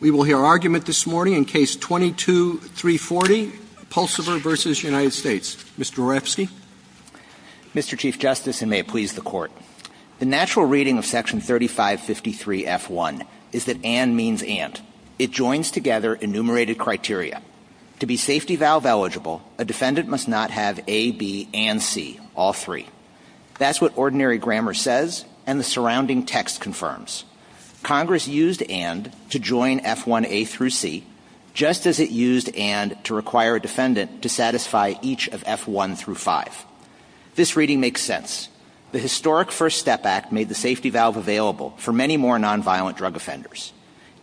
We will hear argument this morning in Case 22-340, Pulsifer v. United States. Mr. Horebsky. Mr. Chief Justice, and may it please the Court, the natural reading of Section 3553-F1 is that and means and. It joins together enumerated criteria. To be safety valve eligible, a defendant must not have A, B, and C, all three. That's what ordinary grammar says, and the surrounding text confirms. Congress used and to join F1A-C, just as it used and to require a defendant to satisfy each of F1-5. This reading makes sense. The historic First Step Act made the safety valve available for many more nonviolent drug offenders.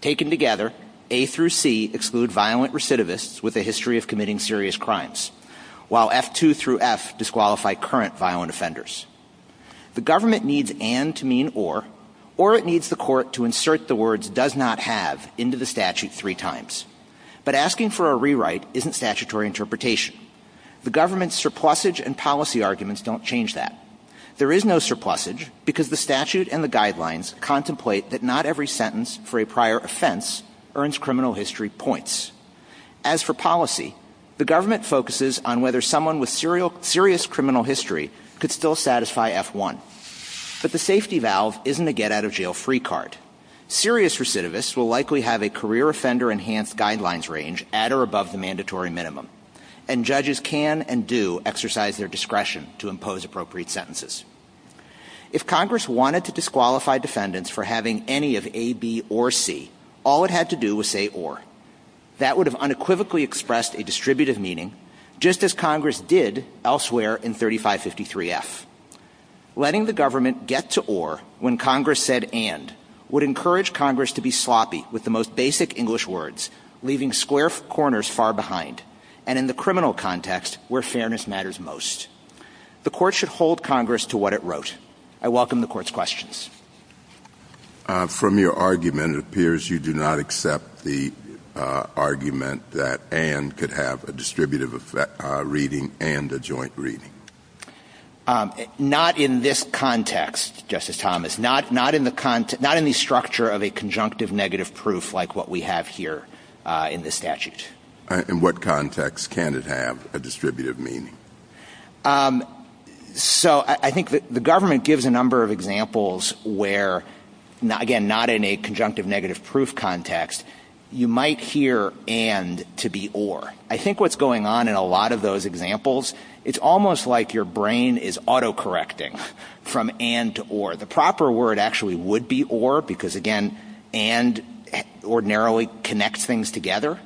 Taken together, A-C exclude violent recidivists with a history of committing serious crimes, while F2-F disqualify current violent offenders. The government needs and to mean or, or it needs the Court to insert the words does not have into the statute three times. But asking for a rewrite isn't statutory interpretation. The government's surplusage and policy arguments don't change that. There is no surplusage because the statute and the guidelines contemplate that not every sentence for a prior offense earns criminal history points. As for policy, the government focuses on whether someone with serious criminal history could still satisfy F1. But the safety valve isn't a get-out-of-jail-free card. Serious recidivists will likely have a career offender enhanced guidelines range at or above the mandatory minimum, and judges can and do exercise their discretion to impose appropriate sentences. If Congress wanted to disqualify defendants for having any of A, B, or C, all it had to do was say or. That would have unequivocally expressed a distributive meaning, just as Congress did elsewhere in 3553F. Letting the government get to or when Congress said and would encourage Congress to be sloppy with the most basic English words, leaving square corners far behind, and in the criminal context where fairness matters most. The court should hold Congress to what it wrote. I welcome the court's questions. From your argument, it appears you do not accept the argument that and could have a distributive reading and a joint reading. Not in this context, Justice Thomas. Not in the structure of a conjunctive negative proof like what we have here in this statute. In what context can it have a distributive meaning? So I think the government gives a number of examples where, again, not in a conjunctive negative proof context, you might hear and to be or. I think what's going on in a lot of those examples, it's almost like your brain is autocorrecting from and to or. The proper word actually would be or because, again, and ordinarily connects things together,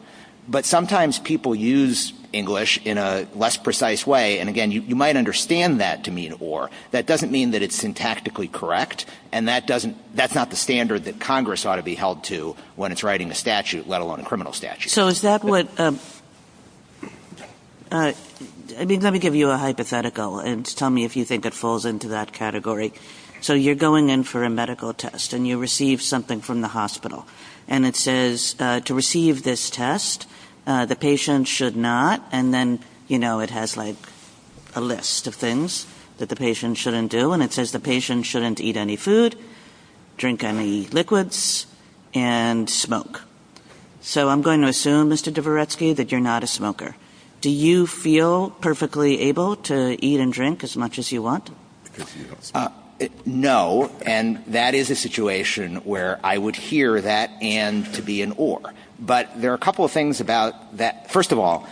but sometimes people use English in a less precise way. And, again, you might understand that to mean or. That doesn't mean that it's syntactically correct, and that's not the standard that Congress ought to be held to when it's writing a statute, let alone a criminal statute. Let me give you a hypothetical and tell me if you think it falls into that category. So you're going in for a medical test and you receive something from the hospital. And it says to receive this test, the patient should not. And then, you know, it has like a list of things that the patient shouldn't do. And it says the patient shouldn't eat any food, drink any liquids and smoke. So I'm going to assume, Mr. Dvoretsky, that you're not a smoker. Do you feel perfectly able to eat and drink as much as you want? No, and that is a situation where I would hear that and to be an or. But there are a couple of things about that. First of all,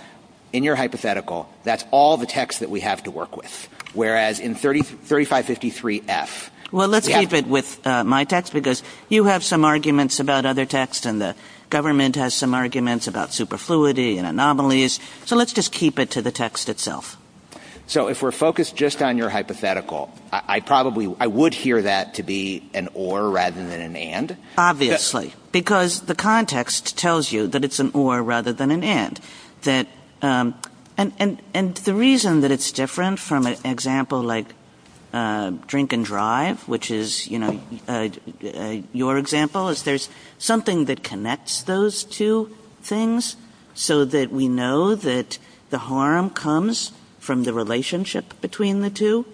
in your hypothetical, that's all the text that we have to work with, whereas in 3553-F. Well, let's keep it with my text because you have some arguments about other texts and the government has some arguments about superfluity and anomalies. So let's just keep it to the text itself. So if we're focused just on your hypothetical, I probably would hear that to be an or rather than an and. Obviously, because the context tells you that it's an or rather than an and. And the reason that it's different from an example like drink and drive, which is, you know, your example, is there's something that connects those two things so that we know that the harm comes from the relationship between the two.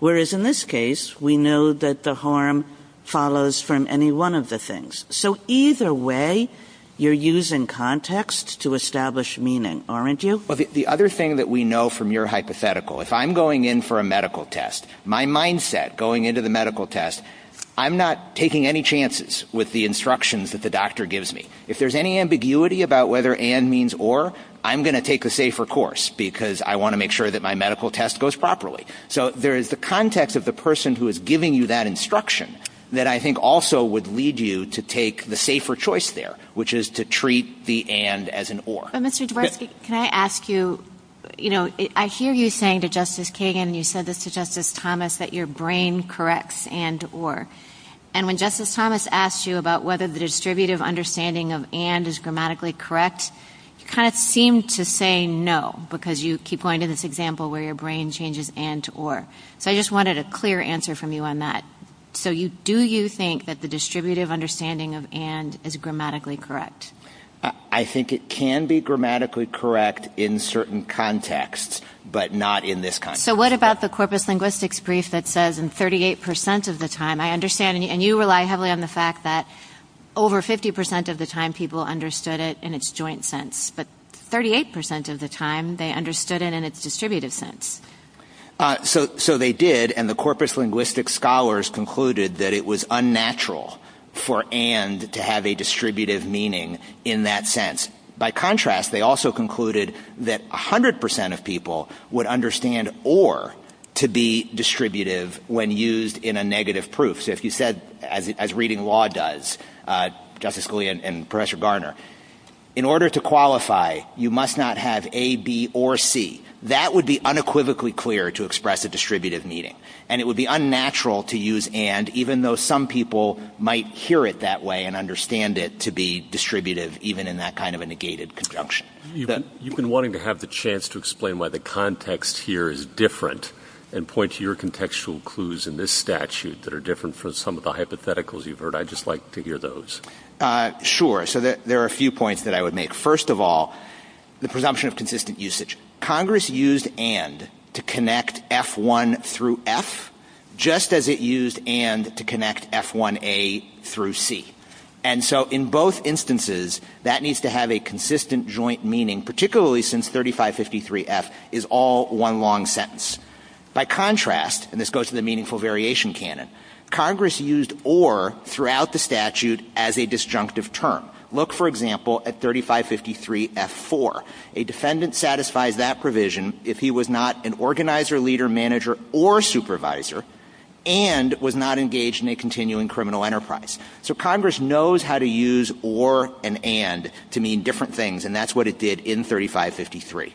Whereas in this case, we know that the harm follows from any one of the things. So either way, you're using context to establish meaning, aren't you? Well, the other thing that we know from your hypothetical, if I'm going in for a medical test, my mindset going into the medical test, I'm not taking any chances with the instructions that the doctor gives me. If there's any ambiguity about whether and means or, I'm going to take a safer course because I want to make sure that my medical test goes properly. So there is the context of the person who is giving you that instruction that I think also would lead you to take the safer choice there, which is to treat the and as an or. Mr. Dworksy, can I ask you, you know, I hear you saying to Justice Kagan, you said this to Justice Thomas, that your brain corrects and or. And when Justice Thomas asked you about whether the distributive understanding of and is grammatically correct, you kind of seemed to say no because you keep going to this example where your brain changes and or. So I just wanted a clear answer from you on that. So do you think that the distributive understanding of and is grammatically correct? I think it can be grammatically correct in certain contexts, but not in this context. So what about the corpus linguistics brief that says in 38% of the time, I understand, and you rely heavily on the fact that over 50% of the time people understood it in its joint sense, but 38% of the time they understood it in its distributive sense. So they did, and the corpus linguistic scholars concluded that it was unnatural for and to have a distributive meaning in that sense. By contrast, they also concluded that 100% of people would understand or to be distributive when used in a negative proof. So if you said, as reading law does, Justice Scalia and Professor Garner, in order to qualify, you must not have A, B, or C. That would be unequivocally clear to express a distributive meaning, and it would be unnatural to use and even though some people might hear it that way and understand it to be distributive even in that kind of a negated conjunction. You've been wanting to have the chance to explain why the context here is different and point to your contextual clues in this statute that are different from some of the hypotheticals you've heard. I'd just like to hear those. Sure. So there are a few points that I would make. First of all, the presumption of consistent usage. Congress used and to connect F1 through F, just as it used and to connect F1A through C. And so in both instances, that needs to have a consistent joint meaning, particularly since 3553F is all one long sentence. By contrast, and this goes to the meaningful variation canon, Congress used or throughout the statute as a disjunctive term. Look, for example, at 3553F4. A defendant satisfies that provision if he was not an organizer, leader, manager, or supervisor and was not engaged in a continuing criminal enterprise. So Congress knows how to use or and and to mean different things, and that's what it did in 3553.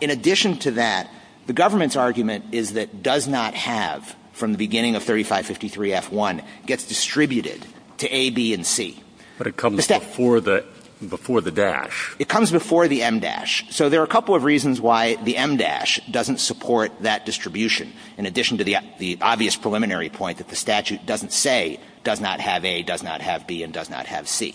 In addition to that, the government's argument is that does not have from the beginning of 3553F1 gets distributed to A, B, and C. It comes before the dash. It comes before the M-dash. So there are a couple of reasons why the M-dash doesn't support that distribution, in addition to the obvious preliminary point that the statute doesn't say does not have A, does not have B, and does not have C.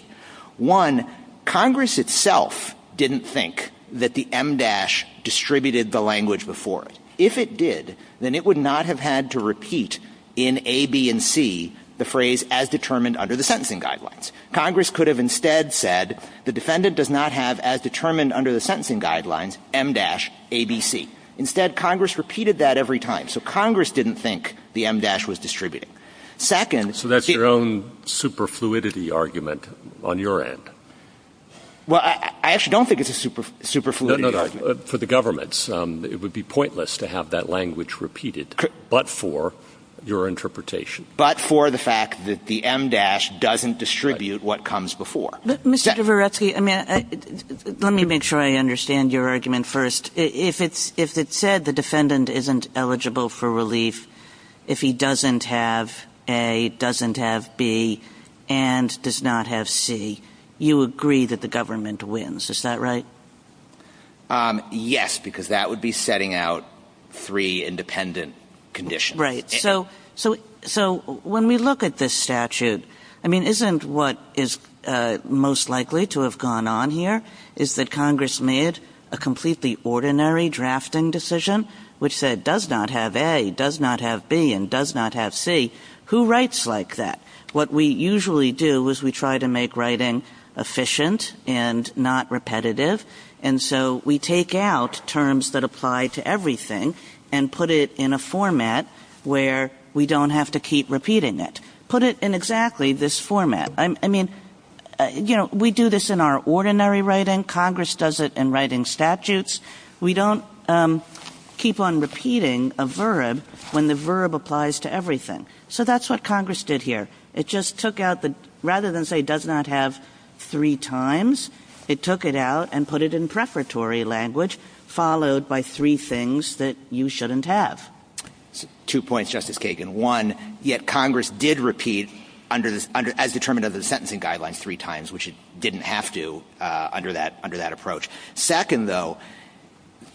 One, Congress itself didn't think that the M-dash distributed the language before it. If it did, then it would not have had to repeat in A, B, and C the phrase as determined under the sentencing guidelines. Congress could have instead said the defendant does not have as determined under the sentencing guidelines M-dash, A, B, C. Instead, Congress repeated that every time. So Congress didn't think the M-dash was distributed. So that's your own superfluidity argument on your end. Well, I actually don't think it's a superfluidity argument. For the government, it would be pointless to have that language repeated but for your interpretation. But for the fact that the M-dash doesn't distribute what comes before. Mr. Gavirepsky, let me make sure I understand your argument first. If it said the defendant isn't eligible for relief if he doesn't have A, doesn't have B, and does not have C, you agree that the government wins. Is that right? Yes, because that would be setting out three independent conditions. Right. So when we look at this statute, I mean, isn't what is most likely to have gone on here is that Congress made a completely ordinary drafting decision, which said does not have A, does not have B, and does not have C. Who writes like that? What we usually do is we try to make writing efficient and not repetitive. And so we take out terms that apply to everything and put it in a format where we don't have to keep repeating it. Put it in exactly this format. I mean, you know, we do this in our ordinary writing. Congress does it in writing statutes. We don't keep on repeating a verb when the verb applies to everything. So that's what Congress did here. It just took out the rather than say does not have three times, it took it out and put it in preparatory language followed by three things that you shouldn't have. Two points, Justice Kagan. One, yet Congress did repeat as determined under the sentencing guidelines three times, which it didn't have to under that approach. Second, though,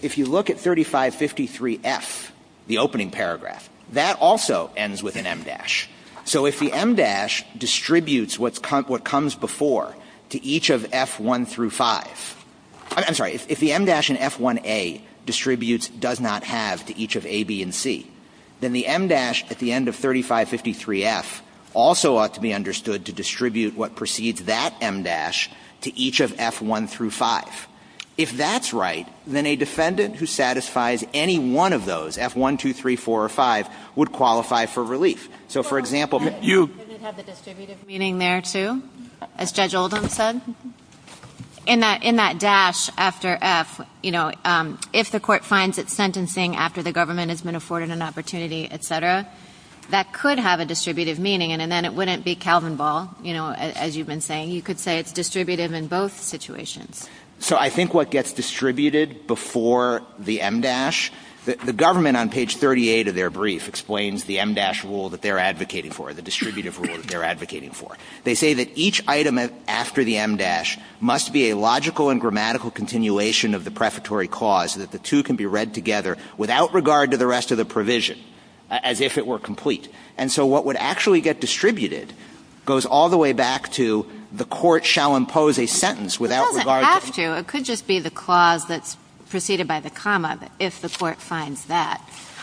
if you look at 3553F, the opening paragraph, that also ends with an em dash. So if the em dash distributes what comes before to each of F1 through 5, I'm sorry, if the em dash in F1A distributes does not have to each of A, B, and C, then the em dash at the end of 3553F also ought to be understood to distribute what precedes that em dash to each of F1 through 5. If that's right, then a defendant who satisfies any one of those, F1, 2, 3, 4, or 5, would qualify for relief. So, for example, you... Does it have the distributive meaning there, too, as Judge Oldham said? In that dash after F, you know, if the court finds it sentencing after the government has been afforded an opportunity, etc., that could have a distributive meaning, and then it wouldn't be Calvin Ball, you know, as you've been saying. You could say it's distributive in both situations. So I think what gets distributed before the em dash, the government on page 38 of their brief explains the em dash rule that they're advocating for, the distributive rule that they're advocating for. They say that each item after the em dash must be a logical and grammatical continuation of the prefatory clause, that the two can be read together without regard to the rest of the provision, as if it were complete. And so what would actually get distributed goes all the way back to the court shall impose a sentence without regard to...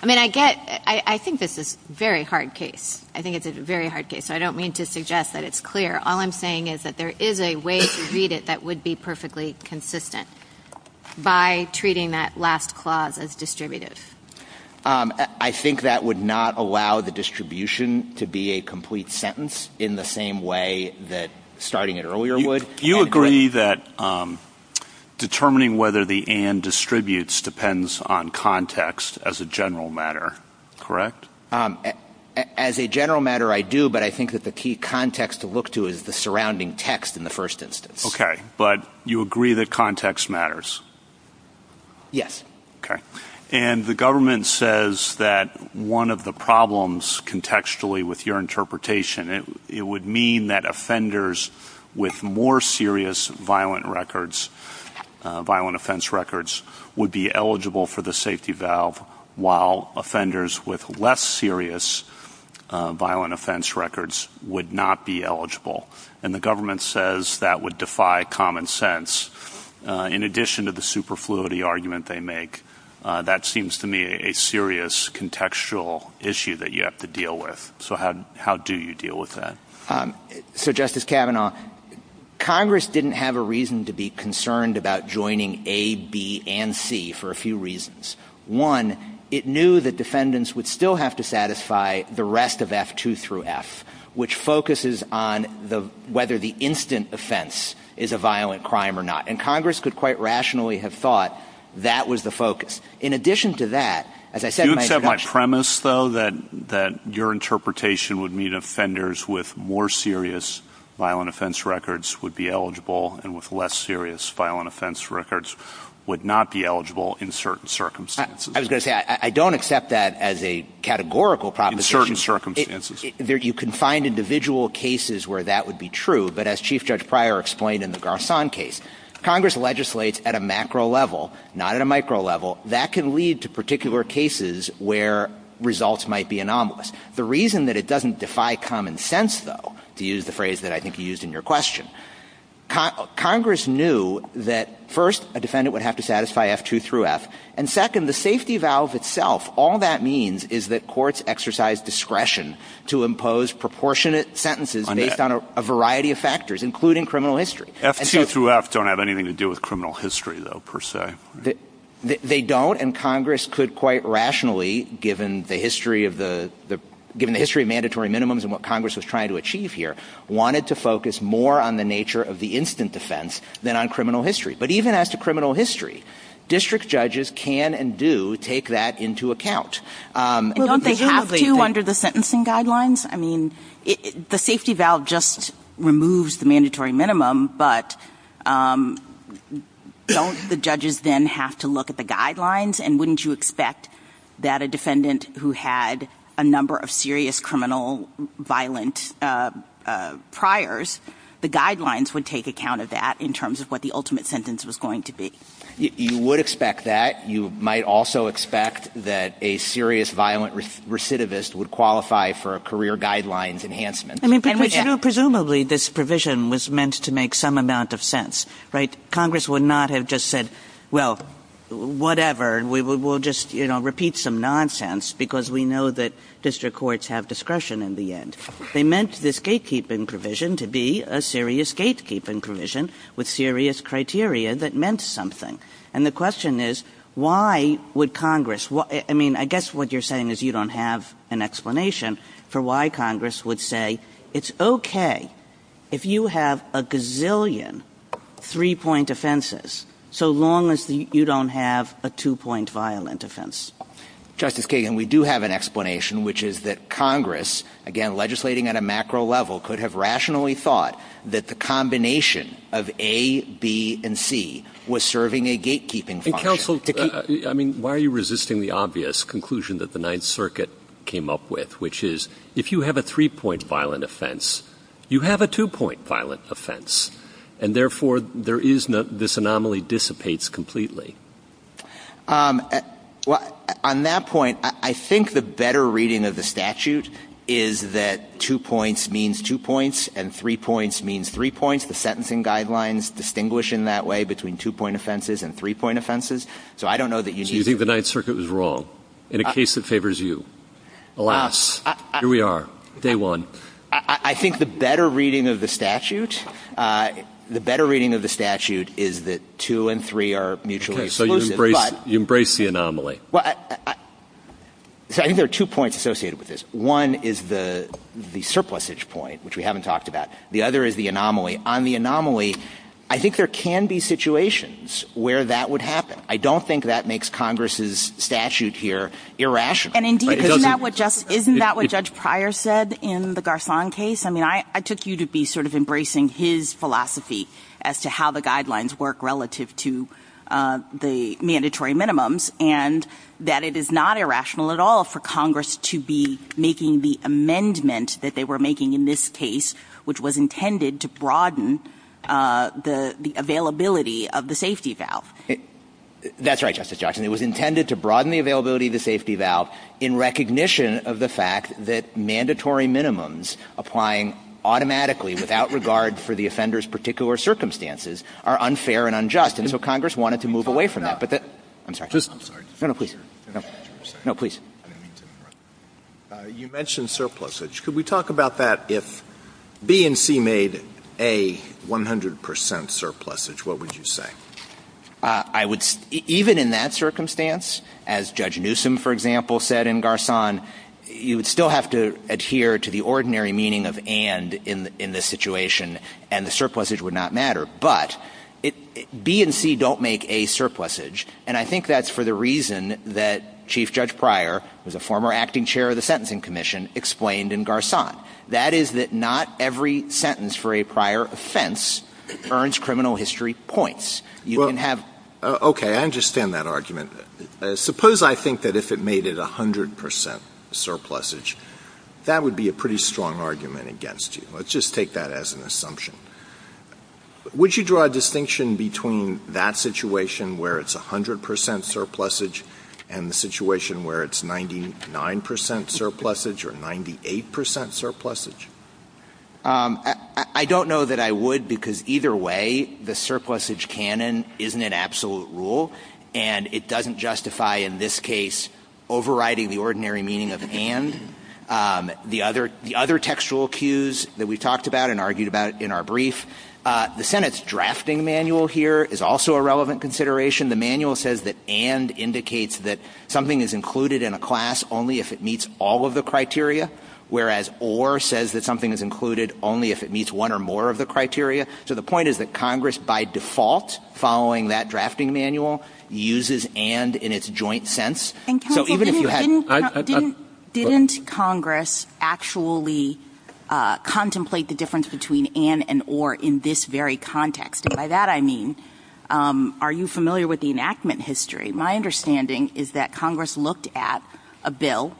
I mean, I get... I think this is a very hard case. I think it's a very hard case. I don't mean to suggest that it's clear. All I'm saying is that there is a way to read it that would be perfectly consistent by treating that last clause as distributive. I think that would not allow the distribution to be a complete sentence in the same way that starting it earlier would. You agree that determining whether the and distributes depends on context as a general matter, correct? As a general matter, I do. But I think that the key context to look to is the surrounding text in the first instance. Okay. But you agree that context matters? Yes. Okay. And the government says that one of the problems contextually with your interpretation, it would mean that offenders with more serious violent records, violent offense records, would be eligible for the safety valve, while offenders with less serious violent offense records would not be eligible. And the government says that would defy common sense. In addition to the superfluity argument they make, that seems to me a serious contextual issue that you have to deal with. So how do you deal with that? So, Justice Kavanaugh, Congress didn't have a reason to be concerned about joining A, B, and C for a few reasons. One, it knew that defendants would still have to satisfy the rest of F2 through F, which focuses on whether the instant offense is a violent crime or not. And Congress could quite rationally have thought that was the focus. In addition to that, as I said in my introduction. Do you accept my premise, though, that your interpretation would mean offenders with more serious violent offense records would be eligible and with less serious violent offense records would not be eligible in certain circumstances? I was going to say, I don't accept that as a categorical proposition. In certain circumstances. You can find individual cases where that would be true, but as Chief Judge Pryor explained in the Garcon case, Congress legislates at a macro level, not at a micro level. That can lead to particular cases where results might be anomalous. The reason that it doesn't defy common sense, though, to use the phrase that I think you used in your question, Congress knew that first, a defendant would have to satisfy F2 through F, and second, the safety valve itself, all that means is that courts exercise discretion to impose proportionate sentences based on a variety of factors, including criminal history. F2 through F don't have anything to do with criminal history, though, per se. They don't, and Congress could quite rationally, given the history of mandatory minimums and what Congress was trying to achieve here, wanted to focus more on the nature of the instant defense than on criminal history. But even as to criminal history, district judges can and do take that into account. Don't they have to under the sentencing guidelines? I mean, the safety valve just removes the mandatory minimum, but don't the judges then have to look at the guidelines, and wouldn't you expect that a defendant who had a number of serious criminal violent priors, the guidelines would take account of that in terms of what the ultimate sentence was going to be? You would expect that. You might also expect that a serious violent recidivist would qualify for a career guidelines enhancement. Presumably, this provision was meant to make some amount of sense. Congress would not have just said, well, whatever, and we'll just repeat some nonsense because we know that district courts have discretion in the end. They meant this gatekeeping provision to be a serious gatekeeping provision with serious criteria that meant something. And the question is, why would Congress – I mean, I guess what you're saying is you don't have an explanation for why Congress would say it's okay if you have a gazillion three-point offenses so long as you don't have a two-point violent offense. Justice Kagan, we do have an explanation, which is that Congress, again, Counsel, I mean, why are you resisting the obvious conclusion that the Ninth Circuit came up with, which is if you have a three-point violent offense, you have a two-point violent offense, and therefore this anomaly dissipates completely. On that point, I think the better reading of the statute is that two points means two points and three points means three points. The sentencing guidelines distinguish in that way between two-point offenses and three-point offenses. So I don't know that you need – So you think the Ninth Circuit was wrong in a case that favors you. Alas, here we are, day one. I think the better reading of the statute – the better reading of the statute is that two and three are mutually exclusive, but – Okay, so you embrace the anomaly. Well, I think there are two points associated with this. One is the surplusage point, which we haven't talked about. The other is the anomaly. On the anomaly, I think there can be situations where that would happen. I don't think that makes Congress's statute here irrational. And indeed, isn't that what Judge Pryor said in the Garcon case? I mean, I took you to be sort of embracing his philosophy as to how the guidelines work relative to the mandatory minimums and that it is not irrational at all for Congress to be making the amendment that they were making in this case, which was intended to broaden the availability of the safety valve. That's right, Justice Jackson. It was intended to broaden the availability of the safety valve in recognition of the fact that mandatory minimums applying automatically, without regard for the offender's particular circumstances, are unfair and unjust. And so Congress wanted to move away from that. I'm sorry. No, no, please. No, please. You mentioned surplusage. Could we talk about that? If B and C made A 100% surplusage, what would you say? Even in that circumstance, as Judge Newsom, for example, said in Garcon, you would still have to adhere to the ordinary meaning of and in this situation, and the surplusage would not matter. But B and C don't make A surplusage, and I think that's for the reason that Chief Judge Pryor, who was a former acting chair of the Sentencing Commission, explained in Garcon. That is that not every sentence for a prior offense earns criminal history points. Okay, I understand that argument. Suppose I think that if it made it 100% surplusage, that would be a pretty strong argument against you. Let's just take that as an assumption. Would you draw a distinction between that situation where it's 100% surplusage and the situation where it's 99% surplusage or 98% surplusage? I don't know that I would, because either way, the surplusage canon isn't an absolute rule, and it doesn't justify, in this case, overriding the ordinary meaning of and. The other textual cues that we talked about and argued about in our brief, the Senate's drafting manual here is also a relevant consideration. The manual says that and indicates that something is included in a class only if it meets all of the criteria, whereas or says that something is included only if it meets one or more of the criteria. So the point is that Congress, by default, following that drafting manual, uses and in its joint sense. Didn't Congress actually contemplate the difference between and and or in this very context? And by that I mean, are you familiar with the enactment history? My understanding is that Congress looked at a bill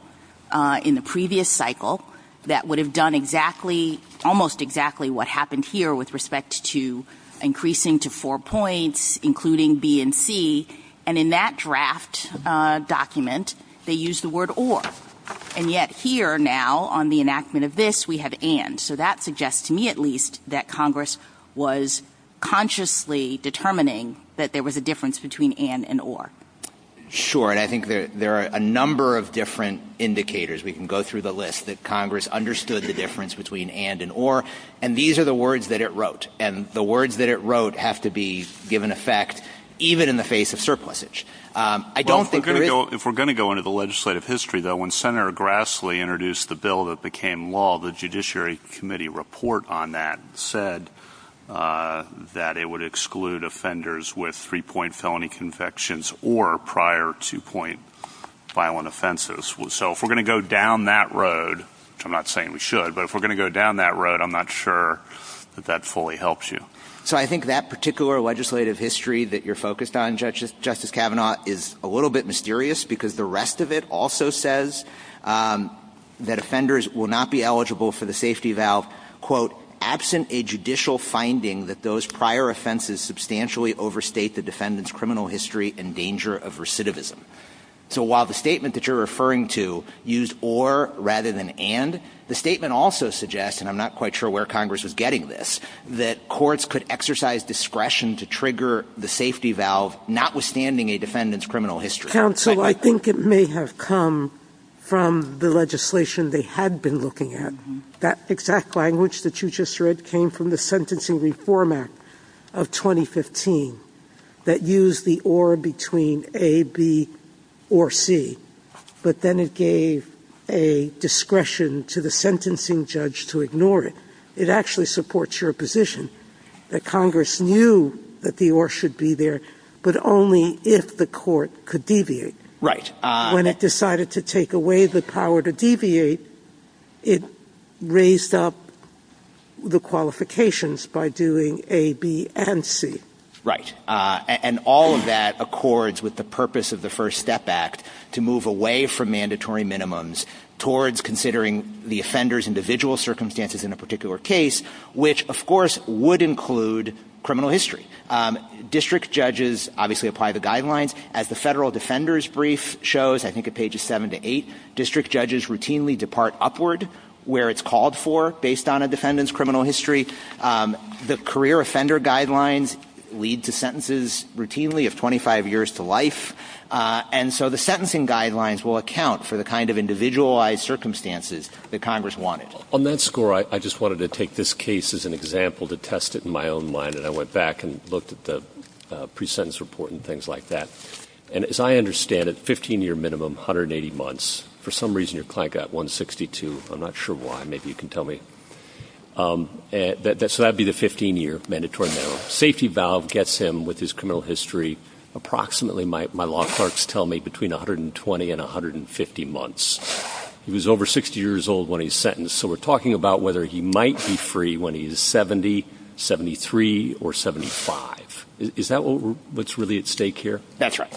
in the previous cycle that would have done exactly, almost exactly what happened here with respect to increasing to four points, including B and C, and in that draft document, they used the word or. And yet here now, on the enactment of this, we have and. So that suggests to me, at least, that Congress was consciously determining that there was a difference between and and or. Sure, and I think there are a number of different indicators. We can go through the list that Congress understood the difference between and and or, and these are the words that it wrote. And the words that it wrote have to be given effect even in the face of surplusage. I don't think if we're going to go into the legislative history, though, when Senator Grassley introduced the bill that became law, the Judiciary Committee report on that said that it would exclude offenders with three point felony convictions or prior to point violent offenses. So if we're going to go down that road, I'm not saying we should, but if we're going to go down that road, I'm not sure that that fully helps you. So I think that particular legislative history that you're focused on, Justice Kavanaugh, is a little bit mysterious because the rest of it also says that offenders will not be eligible for the safety valve, quote, absent a judicial finding that those prior offenses substantially overstate the defendant's criminal history and danger of recidivism. So while the statement that you're referring to used or rather than and, the statement also suggests, and I'm not quite sure where Congress is getting this, that courts could exercise discretion to trigger the safety valve notwithstanding a defendant's criminal history. Counsel, I think it may have come from the legislation they had been looking at. That exact language that you just read came from the Sentencing Reform Act of 2015 that used the or between A, B, or C. But then it gave a discretion to the sentencing judge to ignore it. It actually supports your position that Congress knew that the or should be there, but only if the court could deviate. When it decided to take away the power to deviate, it raised up the qualifications by doing A, B, and C. Right, and all of that accords with the purpose of the First Step Act to move away from mandatory minimums towards considering the offender's individual circumstances in a particular case, which of course would include criminal history. District judges obviously apply the guidelines. As the Federal Defender's Brief shows, I think at pages seven to eight, district judges routinely depart upward where it's called for based on a defendant's criminal history. The career offender guidelines lead to sentences routinely of 25 years to life, and so the sentencing guidelines will account for the kind of individualized circumstances that Congress wanted. On that score, I just wanted to take this case as an example to test it in my own mind, and I went back and looked at the pre-sentence report and things like that. And as I understand it, 15-year minimum, 180 months. For some reason, your client got 162. I'm not sure why. Maybe you can tell me. So that would be the 15-year mandatory minimum. Safety valve gets him with his criminal history approximately, my law clerks tell me, between 120 and 150 months. He was over 60 years old when he was sentenced, so we're talking about whether he might be free when he's 70, 73, or 75. Is that what's really at stake here? That's right.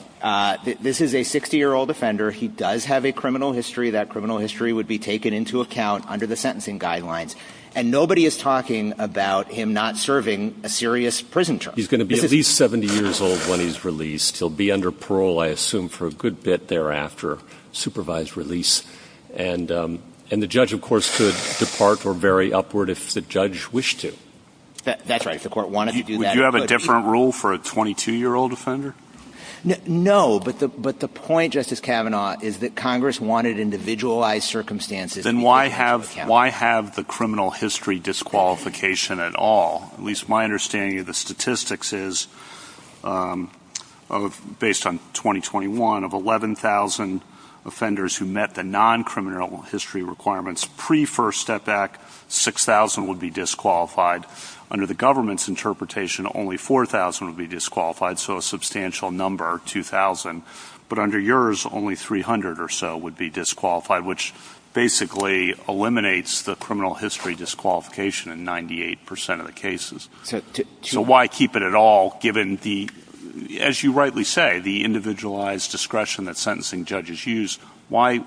This is a 60-year-old offender. He does have a criminal history. That criminal history would be taken into account under the sentencing guidelines, and nobody is talking about him not serving a serious prison term. He's going to be at least 70 years old when he's released. He'll be under parole, I assume, for a good bit thereafter, supervised release. And the judge, of course, could depart or bury upward if the judge wished to. That's right. If the court wanted to do that. Would you have a different rule for a 22-year-old offender? No, but the point, Justice Kavanaugh, is that Congress wanted individualized circumstances. Then why have the criminal history disqualification at all? At least my understanding of the statistics is, based on 2021, of 11,000 offenders who met the non-criminal history requirements pre-First Step Act, 6,000 would be disqualified. Under the government's interpretation, only 4,000 would be disqualified, so a substantial number, 2,000. But under yours, only 300 or so would be disqualified, which basically eliminates the criminal history disqualification in 98% of the cases. So why keep it at all, given, as you rightly say, the individualized discretion that sentencing judges use? Why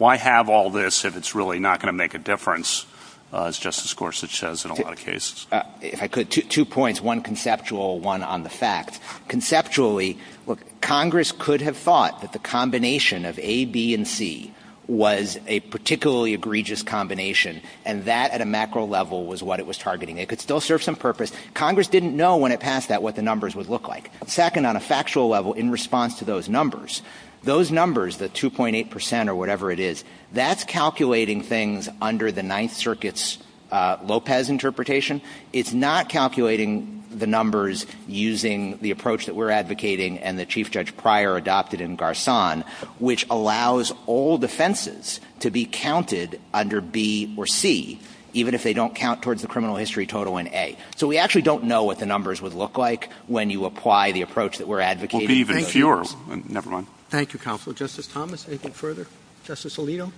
have all this if it's really not going to make a difference, as Justice Gorsuch says in a lot of cases? If I could, two points, one conceptual, one on the facts. Conceptually, look, Congress could have thought that the combination of A, B, and C was a particularly egregious combination, and that at a macro level was what it was targeting. It could still serve some purpose. Congress didn't know when it passed that what the numbers would look like. Second, on a factual level, in response to those numbers, those numbers, the 2.8% or whatever it is, that's calculating things under the Ninth Circuit's Lopez interpretation. It's not calculating the numbers using the approach that we're advocating and the Chief Judge Pryor adopted in Garcon, which allows all defenses to be counted under B or C, even if they don't count towards the criminal history total in A. So we actually don't know what the numbers would look like when you apply the approach that we're advocating. Thank you, Counselor. Justice Thomas, anything further? Justice Alio?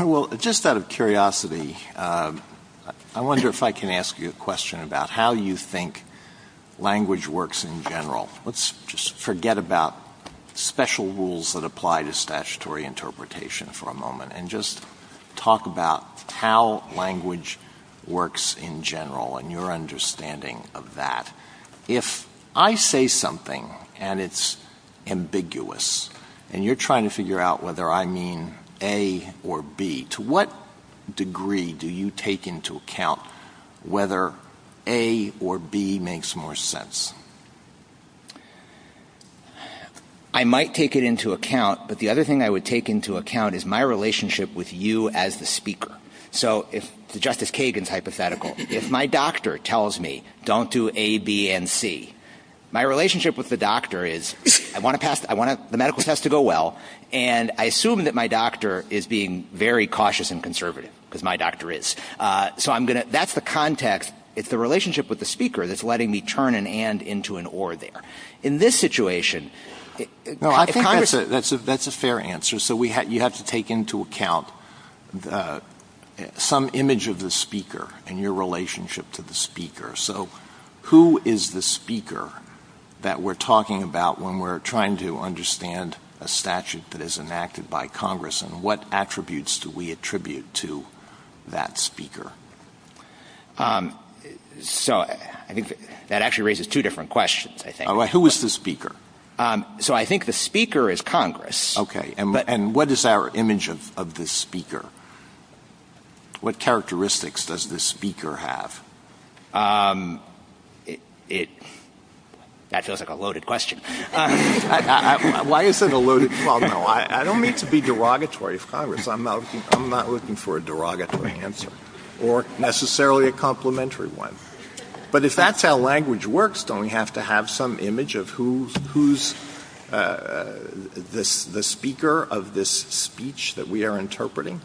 Well, just out of curiosity, I wonder if I can ask you a question about how you think language works in general. Let's just forget about special rules that apply to statutory interpretation for a moment and just talk about how language works in general and your understanding of that. If I say something and it's ambiguous and you're trying to figure out whether I mean A or B, to what degree do you take into account whether A or B makes more sense? I might take it into account, but the other thing I would take into account is my relationship with you as the speaker. So if Justice Kagan's hypothetical, if my doctor tells me don't do A, B, and C, my relationship with the doctor is I want the medical test to go well and I assume that my doctor is being very cautious and conservative because my doctor is. So that's the context. It's the relationship with the speaker that's letting me turn an and into an or there. In this situation... That's a fair answer. So you have to take into account some image of the speaker and your relationship to the speaker. So who is the speaker that we're talking about when we're trying to understand a statute that is enacted by Congress and what attributes do we attribute to that speaker? So I think that actually raises two different questions. Who is the speaker? So I think the speaker is Congress. Okay. And what is our image of the speaker? What characteristics does the speaker have? That feels like a loaded question. Why is it a loaded problem? I don't mean to be derogatory of Congress. I'm not looking for a derogatory answer or necessarily a complimentary one. But if that's how language works, don't we have to have some image of who's the speaker of this speech that we are interpreting?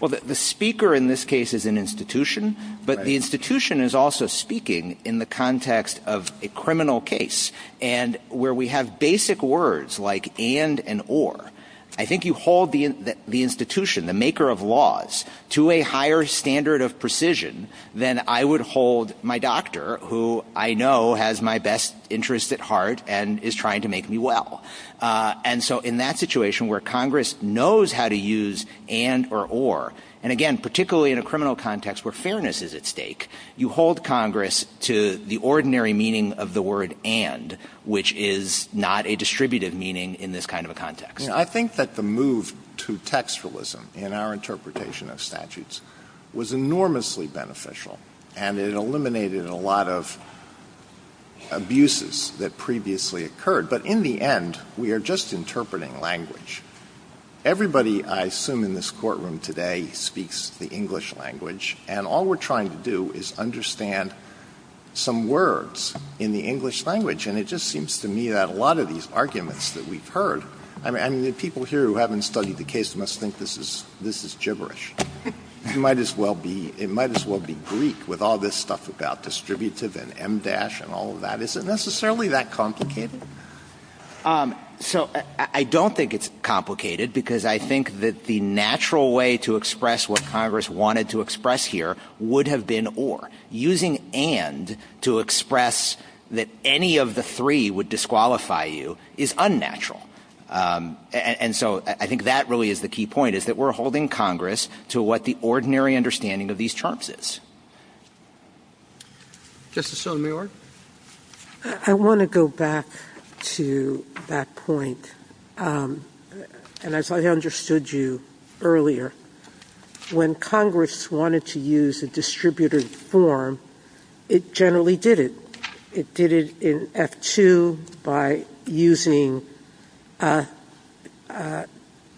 Well, the speaker in this case is an institution, but the institution is also speaking in the context of a criminal case and where we have basic words like and and or. I think you hold the institution, the maker of laws, to a higher standard of precision than I would hold my doctor, who I know has my best interests at heart and is trying to make me well. And so in that situation where Congress knows how to use and or or, and again, particularly in a criminal context where fairness is at stake, you hold Congress to the ordinary meaning of the word and, which is not a distributive meaning in this kind of a context. I think that the move to textualism in our interpretation of statutes was enormously beneficial and it eliminated a lot of abuses that previously occurred. But in the end, we are just interpreting language. Everybody, I assume in this courtroom today, speaks the English language. And all we're trying to do is understand some words in the English language. And it just seems to me that a lot of these arguments that we've heard, and the people here who haven't studied the case must think this is gibberish. It might as well be Greek with all this stuff about distributive and em dash and all of that. Is it necessarily that complicated? So I don't think it's complicated because I think that the natural way to express what Congress wanted to express here would have been or. Using and to express that any of the three would disqualify you is unnatural. And so I think that really is the key point, is that we're holding Congress to what the ordinary understanding of these terms is. Justice Sotomayor? I want to go back to that point. And as I understood you earlier, when Congress wanted to use a distributive form, it generally did it. It did it in F-2 by using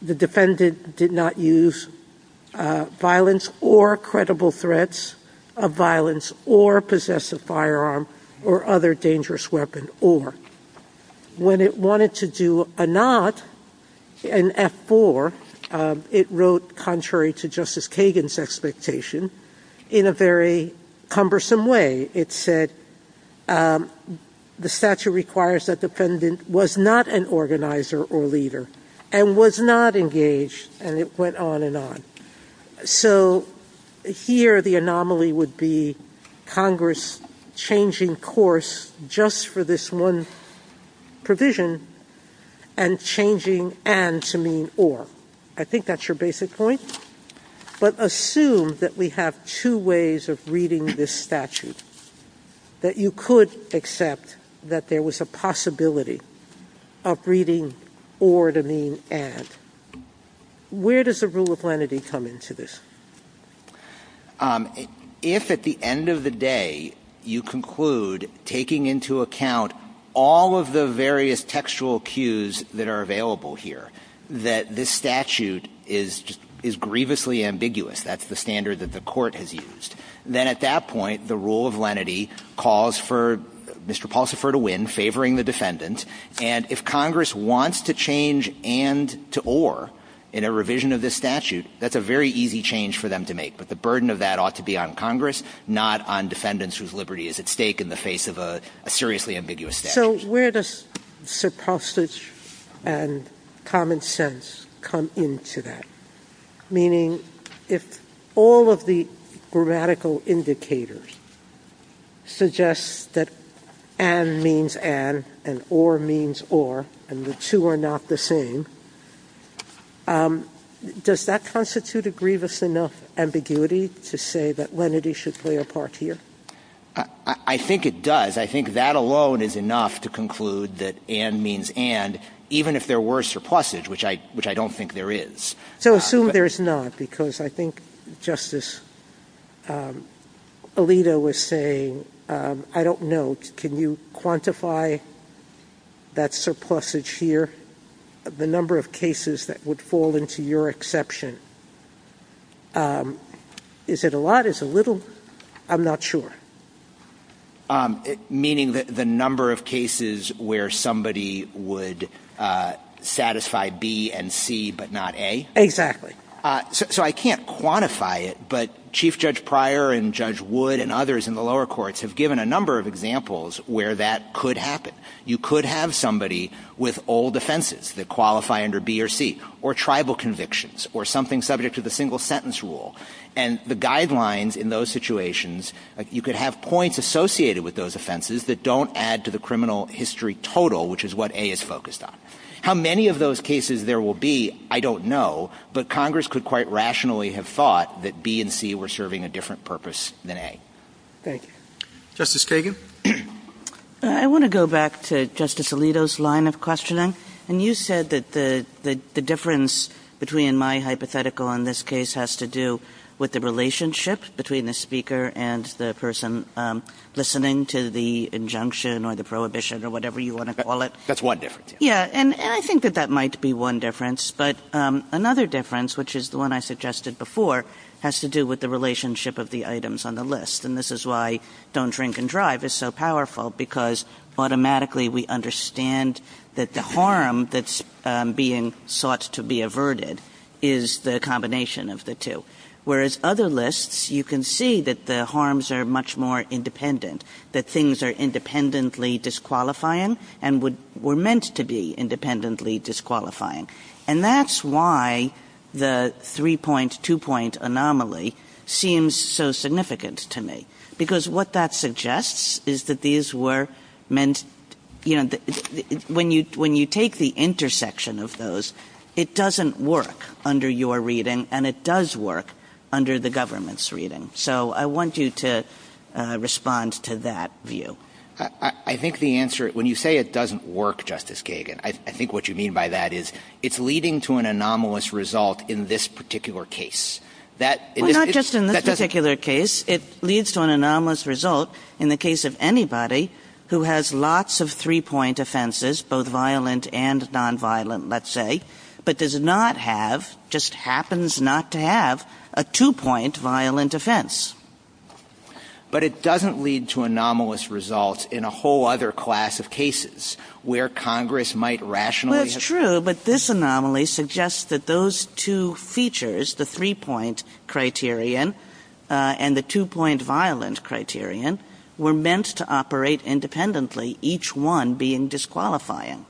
the defendant did not use violence or credible threats of violence or possess a firearm or other dangerous weapon or. When it wanted to do a not in F-4, it wrote contrary to Justice Kagan's expectation in a very cumbersome way. It said the statute requires that defendant was not an organizer or leader and was not engaged. And it went on and on. So here the anomaly would be Congress changing course just for this one provision and changing and to mean or. I think that's your basic point. But assume that we have two ways of reading this statute, that you could accept that there was a possibility of reading or to mean and. Where does the rule of lenity come into this? If at the end of the day you conclude taking into account all of the various textual cues that are available here, that this statute is grievously ambiguous, that's the standard that the court has used, then at that point the rule of lenity calls for Mr. Paulsoffer to win, favoring the defendant. And if Congress wants to change and to or in a revision of this statute, that's a very easy change for them to make. But the burden of that ought to be on Congress, not on defendants whose liberty is at stake in the face of a seriously ambiguous statute. So where does supposage and common sense come into that? Meaning if all of the grammatical indicators suggest that an means an and or means or and the two are not the same, does that constitute a grievous enough ambiguity to say that lenity should play a part here? I think it does. I think that alone is enough to conclude that an means and, even if there were supposage, which I don't think there is. So assume there is not, because I think Justice Alito was saying, I don't know. Can you quantify that supposage here, the number of cases that would fall into your exception? Is it a lot? Is it little? I'm not sure. Meaning the number of cases where somebody would satisfy B and C but not A? Exactly. So I can't quantify it, but Chief Judge Pryor and Judge Wood and others in the lower courts have given a number of examples where that could happen. You could have somebody with old offenses that qualify under B or C, or tribal convictions, or something subject to the single sentence rule. And the guidelines in those situations, you could have points associated with those offenses that don't add to the criminal history total, which is what A is focused on. How many of those cases there will be, I don't know, but Congress could quite rationally have thought that B and C were serving a different purpose than A. Thank you. Justice Kagan? I want to go back to Justice Alito's line of questioning. And you said that the difference between my hypothetical on this case has to do with the relationship between the speaker and the person listening to the injunction or the prohibition or whatever you want to call it. That's one difference. Yeah, and I think that that might be one difference. But another difference, which is the one I suggested before, has to do with the relationship of the items on the list. And this is why Don't Drink and Drive is so powerful, because automatically we understand that the harm that's being sought to be averted is the combination of the two. Whereas other lists, you can see that the harms are much more independent, that things are independently disqualifying and were meant to be independently disqualifying. And that's why the three-point, two-point anomaly seems so significant to me. Because what that suggests is that these were meant, you know, when you take the intersection of those, it doesn't work under your reading and it does work under the government's reading. So I want you to respond to that view. I think the answer, when you say it doesn't work, Justice Kagan, I think what you mean by that is it's leading to an anomalous result in this particular case. Well, not just in this particular case. It leads to an anomalous result in the case of anybody who has lots of three-point offenses, both violent and nonviolent, let's say, but does not have, just happens not to have, a two-point violent offense. But it doesn't lead to anomalous results in a whole other class of cases where Congress might rationally... The two-point criterion and the two-point violent criterion were meant to operate independently, each one being disqualifying.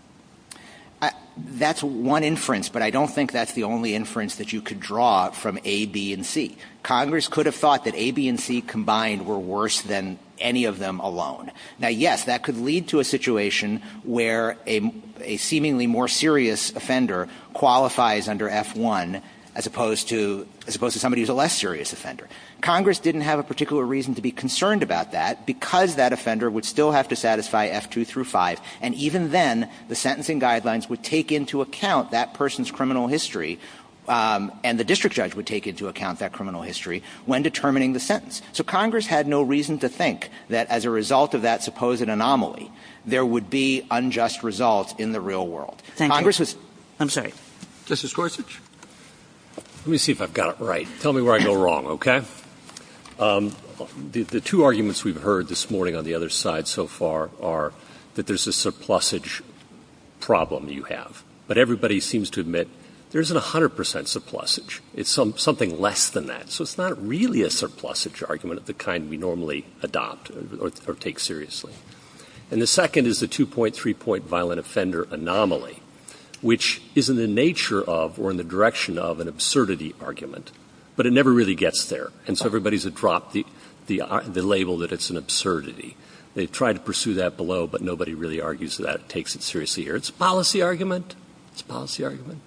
That's one inference, but I don't think that's the only inference that you could draw from A, B, and C. Congress could have thought that A, B, and C combined were worse than any of them alone. Now, yes, that could lead to a situation where a seemingly more serious offender qualifies under F-1 as opposed to somebody who's a less serious offender. Congress didn't have a particular reason to be concerned about that because that offender would still have to satisfy F-2 through F-5. And even then, the sentencing guidelines would take into account that person's criminal history and the district judge would take into account that criminal history when determining the sentence. So Congress had no reason to think that as a result of that supposed anomaly, there would be unjust results in the real world. I'm sorry. Justice Gorsuch? Let me see if I've got it right. Tell me where I go wrong, okay? The two arguments we've heard this morning on the other side so far are that there's a surplusage problem you have. But everybody seems to admit there's a 100% surplusage. It's something less than that. So it's not really a surplusage argument of the kind we normally adopt or take seriously. And the second is the 2.3 point violent offender anomaly, which is in the nature of or in the direction of an absurdity argument. But it never really gets there. And so everybody's dropped the label that it's an absurdity. They've tried to pursue that below, but nobody really argues that it takes it seriously here. It's a policy argument. It's a policy argument.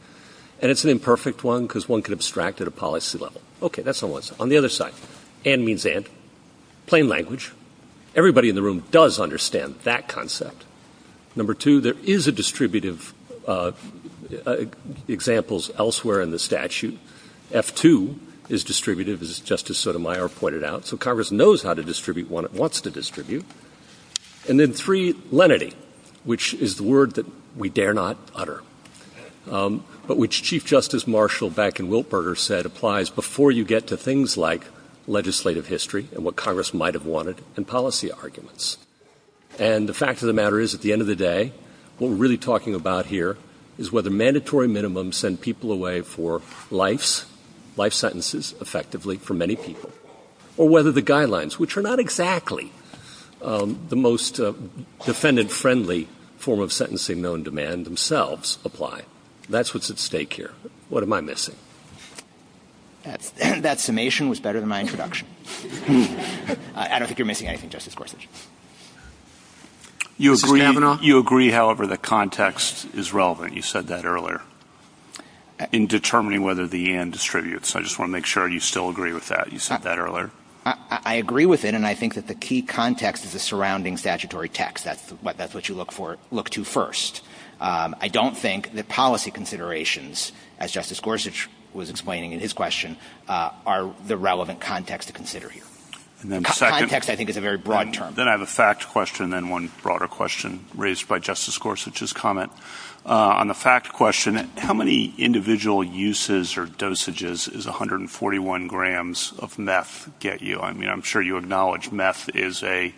And it's an imperfect one because one could abstract at a policy level. Okay, that's on one side. On the other side, and means and. Plain language. Everybody in the room does understand that concept. Number two, there is a distributive examples elsewhere in the statute. F2 is distributive, as Justice Sotomayor pointed out. So Congress knows how to distribute what it wants to distribute. And then three, lenity, which is the word that we dare not utter. But which Chief Justice Marshall back in Wilberger said applies before you get to things like legislative history and what Congress might have wanted and policy arguments. And the fact of the matter is, at the end of the day, what we're really talking about here is whether mandatory minimums send people away for life's life sentences effectively for many people. Or whether the guidelines, which are not exactly the most defendant-friendly form of sentencing known to man themselves, apply. That's what's at stake here. What am I missing? That summation was better than my introduction. I don't think you're missing anything, Justice Gorsuch. You agree, however, that context is relevant. You said that earlier. In determining whether the end distributes. I just want to make sure you still agree with that. You said that earlier. I agree with it, and I think that the key context is the surrounding statutory text. That's what you look to first. I don't think that policy considerations, as Justice Gorsuch was explaining in his question, are the relevant context to consider here. Context, I think, is a very broad term. Then I have a fact question and then one broader question raised by Justice Gorsuch's comment. On the fact question, how many individual uses or dosages does 141 grams of meth get you? I'm sure you acknowledge meth is a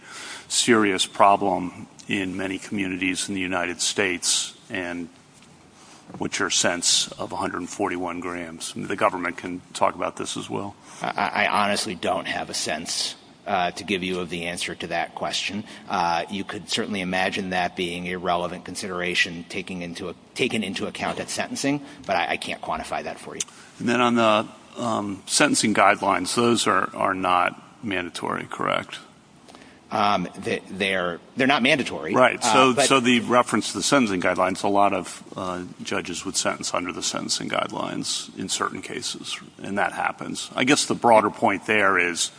serious problem in many communities in the United States, and what's your sense of 141 grams? The government can talk about this as well. I honestly don't have a sense to give you the answer to that question. You could certainly imagine that being a relevant consideration taken into account at sentencing, but I can't quantify that for you. Then on the sentencing guidelines, those are not mandatory, correct? They're not mandatory. Right. So the reference to the sentencing guidelines, a lot of judges would sentence under the sentencing guidelines in certain cases, and that happens. I guess the broader point there is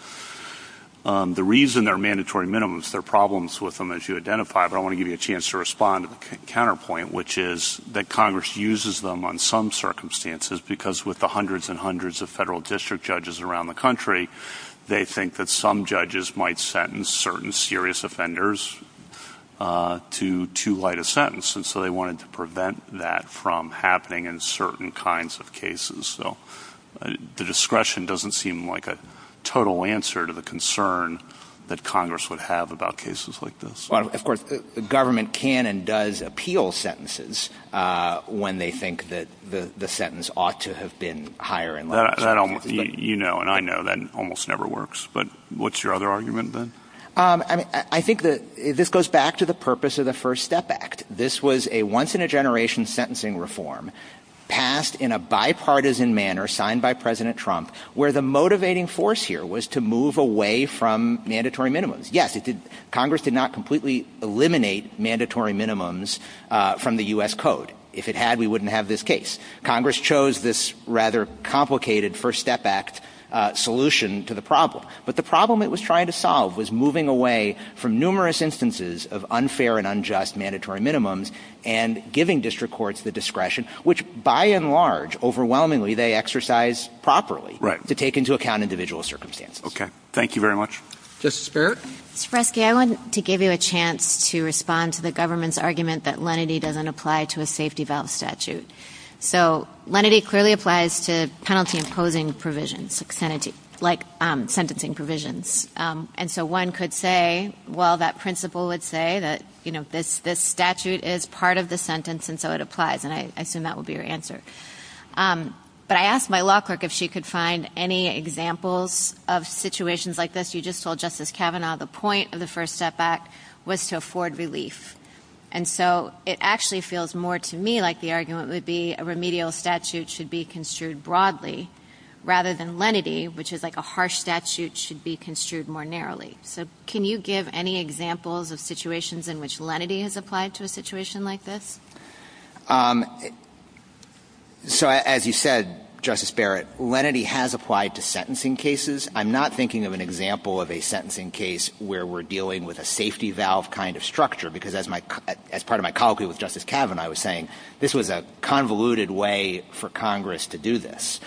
the reason there are mandatory minimums, there are problems with them, as you identify, but I want to give you a chance to respond to the counterpoint, which is that Congress uses them on some circumstances, because with the hundreds and hundreds of federal district judges around the country, they think that some judges might sentence certain serious offenders to too light a sentence, and so they wanted to prevent that from happening in certain kinds of cases. So the discretion doesn't seem like a total answer to the concern that Congress would have about cases like this. Of course, the government can and does appeal sentences when they think that the sentence ought to have been higher. You know and I know that almost never works, but what's your other argument then? I think that this goes back to the purpose of the First Step Act. This was a once-in-a-generation sentencing reform, passed in a bipartisan manner, signed by President Trump, where the motivating force here was to move away from mandatory minimums. Yes, Congress did not completely eliminate mandatory minimums from the U.S. Code. If it had, we wouldn't have this case. Congress chose this rather complicated First Step Act solution to the problem, but the problem it was trying to solve was moving away from numerous instances of unfair and unjust mandatory minimums and giving district courts the discretion, which by and large, overwhelmingly, they exercise properly, to take into account individual circumstances. Okay, thank you very much. Justice Barrett? Mr. Freschi, I wanted to give you a chance to respond to the government's argument that lenity doesn't apply to a safety vows statute. So lenity clearly applies to penalty-imposing provisions, like sentencing provisions. And so one could say, well, that principle would say that this statute is part of the sentence, and so it applies, and I assume that would be your answer. But I asked my law clerk if she could find any examples of situations like this. You just told Justice Kavanaugh the point of the First Step Act was to afford relief. And so it actually feels more to me like the argument would be a remedial statute should be construed broadly rather than lenity, which is like a harsh statute should be construed more narrowly. So can you give any examples of situations in which lenity has applied to a situation like this? So as you said, Justice Barrett, lenity has applied to sentencing cases. I'm not thinking of an example of a sentencing case where we're dealing with a safety valve kind of structure because as part of my colloquy with Justice Kavanaugh, I was saying this was a convoluted way for Congress to do this.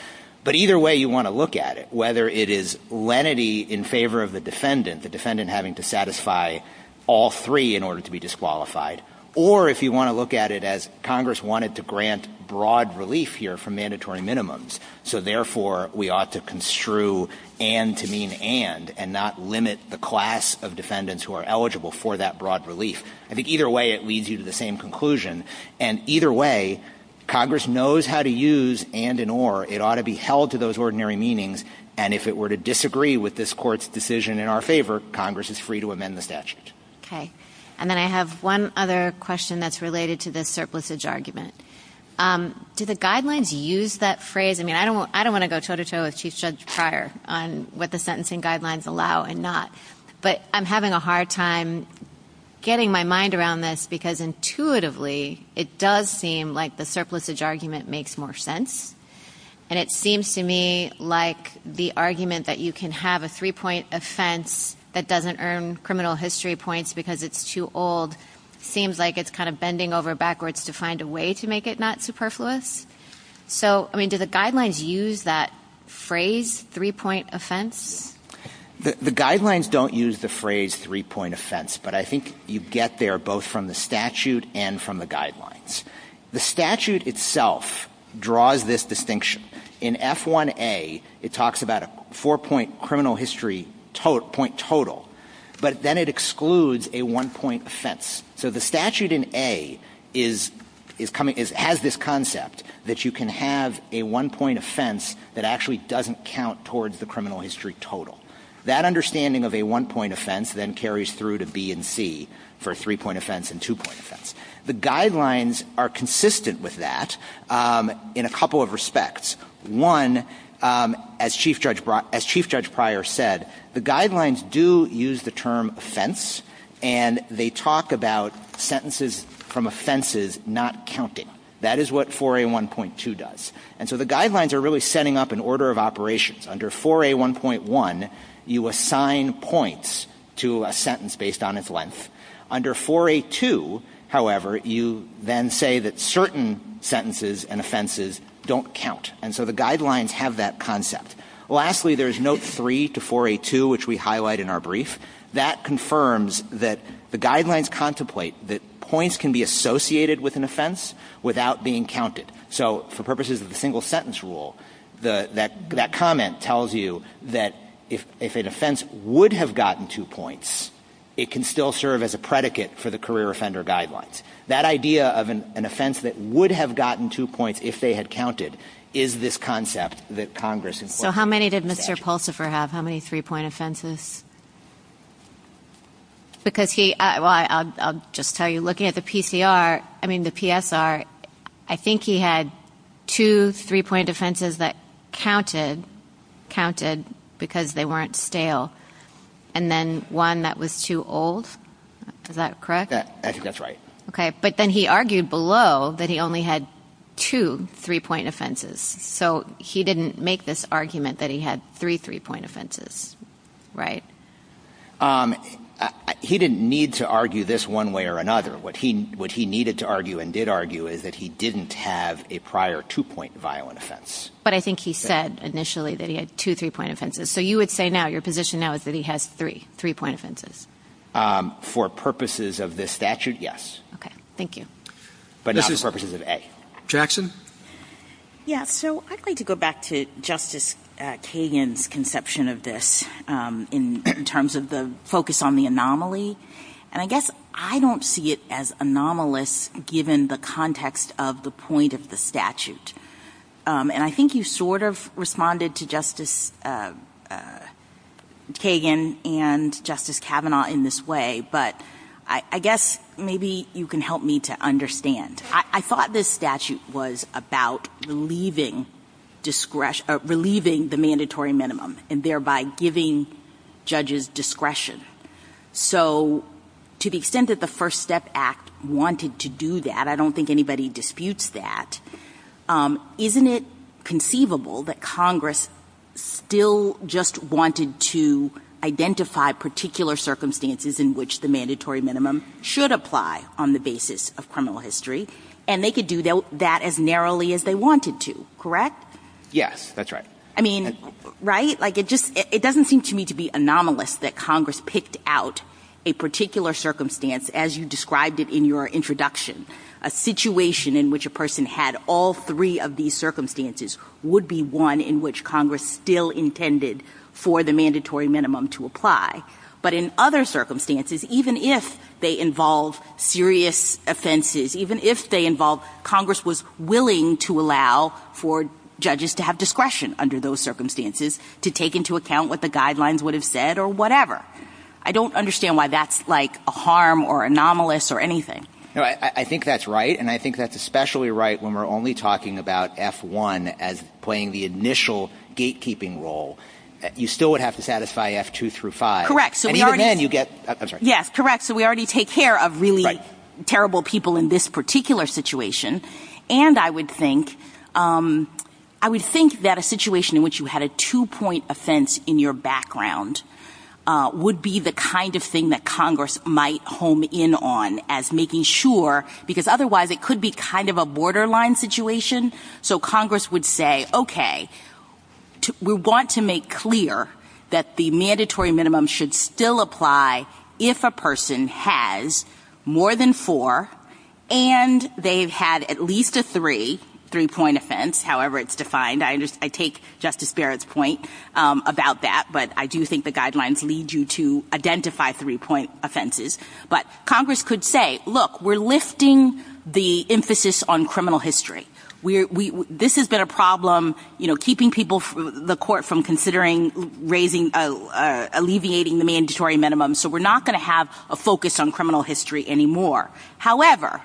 But either way you want to look at it, whether it is lenity in favor of the defendant, the defendant having to satisfy all three in order to be disqualified, or if you want to look at it as Congress wanted to grant broad relief here for mandatory minimums, so therefore we ought to construe and to mean and and not limit the class of defendants who are eligible for that broad relief. I think either way it leads you to the same conclusion. And either way, Congress knows how to use and and or. It ought to be held to those ordinary meanings. And if it were to disagree with this court's decision in our favor, Congress is free to amend the statute. Okay. And then I have one other question that's related to the surplusage argument. Do the guidelines use that phrase? I mean, I don't want to go toe-to-toe with Chief Judd's prior on what the sentencing guidelines allow and not. But I'm having a hard time getting my mind around this because intuitively it does seem like the surplusage argument makes more sense. And it seems to me like the argument that you can have a three-point offense that doesn't earn criminal history points because it's too old seems like it's kind of bending over backwards to find a way to make it not superfluous. So, I mean, do the guidelines use that phrase, three-point offense? The guidelines don't use the phrase three-point offense, but I think you get there both from the statute and from the guidelines. The statute itself draws this distinction. In F1A, it talks about a four-point criminal history point total, but then it excludes a one-point offense. So the statute in A has this concept that you can have a one-point offense that actually doesn't count towards the criminal history total. That understanding of a one-point offense then carries through to B and C for a three-point offense and two-point offense. The guidelines are consistent with that in a couple of respects. One, as Chief Judge Pryor said, the guidelines do use the term offense, and they talk about sentences from offenses not counted. That is what 4A1.2 does. And so the guidelines are really setting up an order of operations. Under 4A1.1, you assign points to a sentence based on its length. Under 4A2, however, you then say that certain sentences and offenses don't count. And so the guidelines have that concept. Lastly, there is Note 3 to 4A2, which we highlight in our brief. That confirms that the guidelines contemplate that points can be associated with an offense without being counted. So for purposes of the single-sentence rule, that comment tells you that if an offense would have gotten two points, it can still serve as a predicate for the career offender guidelines. That idea of an offense that would have gotten two points if they had counted is this concept that Congress incorporates. So how many did Mr. Pulsifer have? How many three-point offenses? I'll just tell you, looking at the PSR, I think he had two three-point offenses that counted because they weren't stale, and then one that was too old. Is that correct? That's right. Okay. But then he argued below that he only had two three-point offenses. So he didn't make this argument that he had three three-point offenses. Right. He didn't need to argue this one way or another. What he needed to argue and did argue is that he didn't have a prior two-point violent offense. But I think he said initially that he had two three-point offenses. So you would say now, your position now is that he has three three-point offenses? For purposes of this statute, yes. Okay. Thank you. But not for purposes of A. Jackson? Yeah, so I'd like to go back to Justice Kagan's conception of this in terms of the focus on the anomaly. And I guess I don't see it as anomalous given the context of the point of the statute. And I think you sort of responded to Justice Kagan and Justice Kavanaugh in this way, but I guess maybe you can help me to understand. I thought this statute was about relieving the mandatory minimum and thereby giving judges discretion. So to the extent that the First Step Act wanted to do that, I don't think anybody disputes that, isn't it conceivable that Congress still just wanted to identify particular circumstances in which the mandatory minimum should apply on the basis of criminal history, and they could do that as narrowly as they wanted to, correct? Yes, that's right. I mean, right? Like, it doesn't seem to me to be anomalous that Congress picked out a particular circumstance as you described it in your introduction. A situation in which a person had all three of these circumstances would be one in which Congress still intended for the mandatory minimum to apply. But in other circumstances, even if they involve serious offenses, even if they involve Congress was willing to allow for judges to have discretion under those circumstances to take into account what the guidelines would have said or whatever. I don't understand why that's, like, a harm or anomalous or anything. I think that's right, and I think that's especially right when we're only talking about F-1 as playing the initial gatekeeping role. You still would have to satisfy F-2 through 5. Correct. And even then you get, I'm sorry. Yes, correct. So we already take care of really terrible people in this particular situation, and I would think that a situation in which you had a two-point offense in your background would be the kind of thing that Congress might home in on as making sure, because otherwise it could be kind of a borderline situation. So Congress would say, okay, we want to make clear that the mandatory minimum should still apply if a person has more than four, and they've had at least a three, three-point offense, however it's defined. I take Justice Barrett's point about that, but I do think the guidelines lead you to identify three-point offenses. But Congress could say, look, we're lifting the emphasis on criminal history. This has been a problem keeping people, the court, from considering raising, alleviating the mandatory minimum, so we're not going to have a focus on criminal history anymore. However,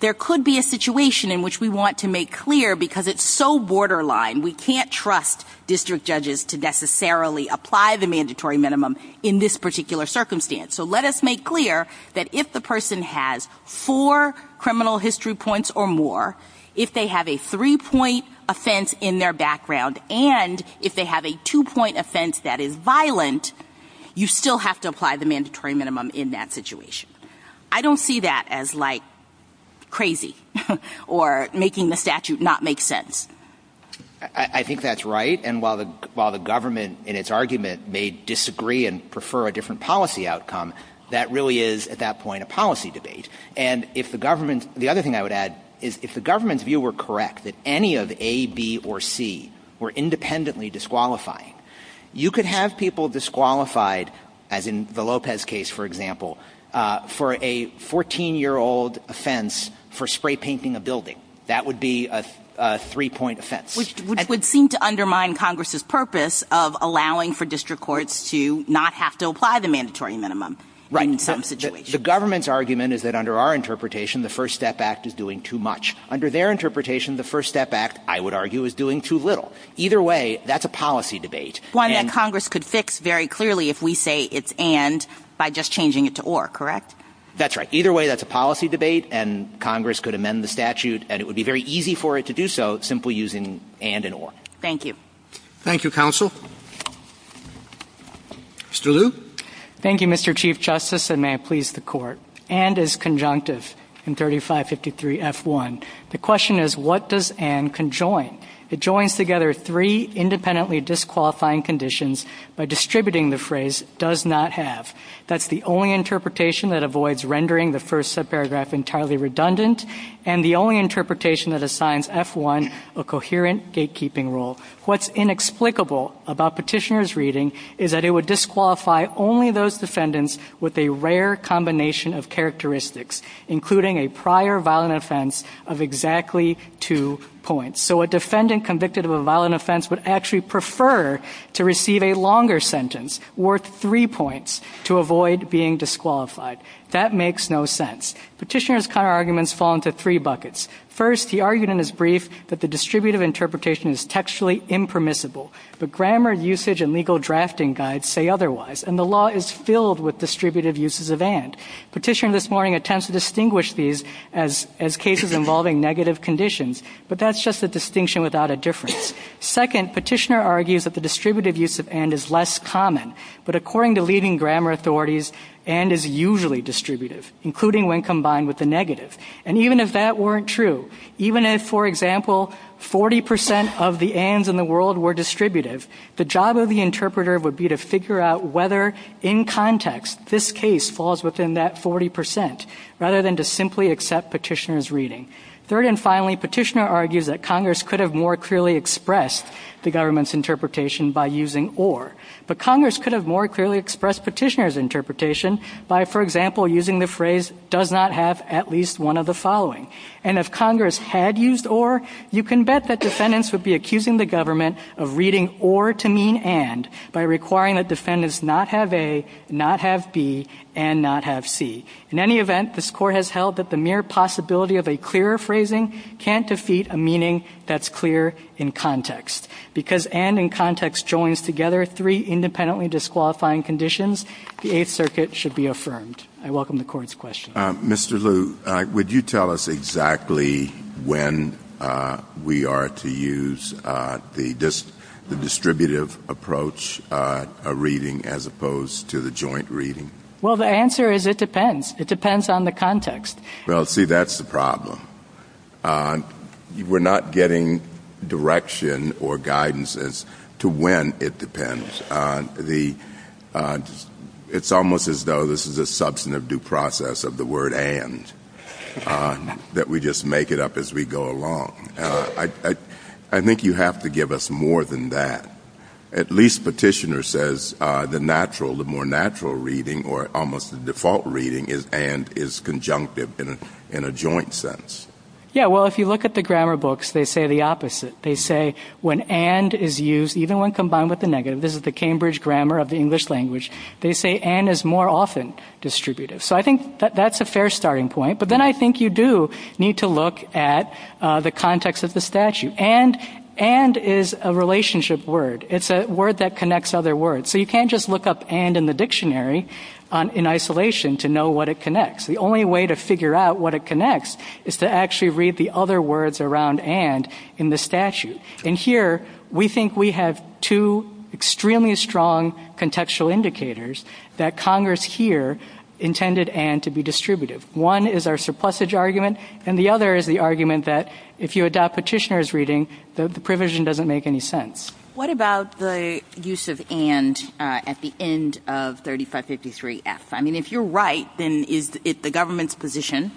there could be a situation in which we want to make clear, because it's so borderline, we can't trust district judges to necessarily apply the mandatory minimum in this particular circumstance. So let us make clear that if the person has four criminal history points or more, if they have a three-point offense in their background, and if they have a two-point offense that is violent, you still have to apply the mandatory minimum in that situation. I don't see that as like crazy or making the statute not make sense. I think that's right. And while the government, in its argument, may disagree and prefer a different policy outcome, that really is, at that point, a policy debate. And the other thing I would add is if the government's view were correct, that any of A, B, or C were independently disqualifying, you could have people disqualified, as in the Lopez case, for example, for a 14-year-old offense for spray-painting a building. That would be a three-point offense. Which would seem to undermine Congress's purpose of allowing for district courts to not have to apply the mandatory minimum in some situations. Right. The government's argument is that under our interpretation, the First Step Act is doing too much. Under their interpretation, the First Step Act, I would argue, is doing too little. Either way, that's a policy debate. One that Congress could fix very clearly if we say it's and by just changing it to or, correct? That's right. Either way, that's a policy debate, and Congress could amend the statute, and it would be very easy for it to do so simply using and and or. Thank you. Thank you, Counsel. Mr. Liu? Thank you, Mr. Chief Justice, and may I please the Court. And is conjunctive in 3553F1. The question is, what does and conjoin? It joins together three independently disqualifying conditions by distributing the phrase does not have. That's the only interpretation that avoids rendering the first paragraph entirely redundant and the only interpretation that assigns F1 a coherent gatekeeping rule. What's inexplicable about petitioner's reading is that it would disqualify only those defendants with a rare combination of characteristics, including a prior violent offense of exactly two points. So a defendant convicted of a violent offense would actually prefer to receive a longer sentence worth three points to avoid being disqualified. That makes no sense. Petitioner's counterarguments fall into three buckets. First, he argued in his brief that the distributive interpretation is textually impermissible, but grammar usage and legal drafting guides say otherwise, and the law is filled with distributive uses of and. Petitioner this morning attempts to distinguish these as cases involving negative conditions, but that's just a distinction without a difference. Second, petitioner argues that the distributive use of and is less common, but according to leading grammar authorities, and is usually distributive, including when combined with a negative. And even if that weren't true, even if, for example, 40% of the ands in the world were distributive, the job of the interpreter would be to figure out whether, in context, this case falls within that 40% rather than to simply accept petitioner's reading. Third and finally, petitioner argues that Congress could have more clearly expressed the government's interpretation by using or. But Congress could have more clearly expressed petitioner's interpretation by, for example, using the phrase does not have at least one of the following. And if Congress had used or, you can bet that defendants would be accusing the government of reading or to mean and by requiring that defendants not have a, not have b, and not have c. In any event, this Court has held that the mere possibility of a clearer phrasing can't defeat a meaning that's clear in context, because and in context joins together three independently disqualifying conditions, the Eighth Circuit should be affirmed. I welcome the Court's question. Mr. Lu, would you tell us exactly when we are to use the distributive approach, a reading as opposed to the joint reading? Well, the answer is it depends. It depends on the context. Well, see, that's the problem. We're not getting direction or guidance as to when it depends. It's almost as though this is a substantive due process of the word and, that we just make it up as we go along. I think you have to give us more than that. At least petitioner says the natural, the more natural reading or almost the default reading is and is conjunctive in a joint sense. Yeah, well, if you look at the grammar books, they say the opposite. They say when and is used, even when combined with the negative, this is the Cambridge grammar of the English language, they say and is more often distributive. So I think that's a fair starting point. But then I think you do need to look at the context of the statute. And, and is a relationship word. It's a word that connects other words. So you can't just look up and in the dictionary in isolation to know what it connects. The only way to figure out what it connects is to actually read the other words around and in the statute. And here, we think we have two extremely strong contextual indicators that Congress here intended and to be distributive. One is our surplusage argument, and the other is the argument that if you adopt petitioner's reading, the provision doesn't make any sense. What about the use of and at the end of 3553F? I mean, if you're right, then is it the government's position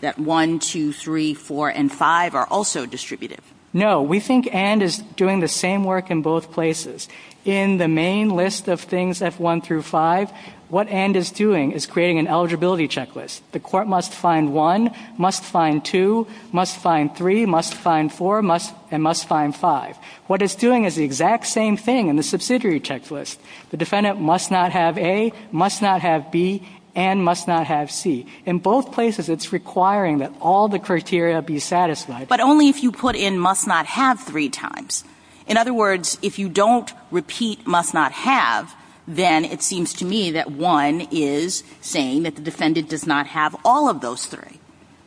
that 1, 2, 3, 4, and 5 are also distributive? No, we think and is doing the same work in both places. In the main list of things, F1 through 5, what and is doing is creating an eligibility checklist. The court must find 1, must find 2, must find 3, must find 4, and must find 5. What it's doing is the exact same thing in the subsidiary checklist. The defendant must not have A, must not have B, and must not have C. In both places, it's requiring that all the criteria be satisfied. But only if you put in must not have three times. In other words, if you don't repeat must not have, then it seems to me that 1 is saying that the defendant does not have all of those three.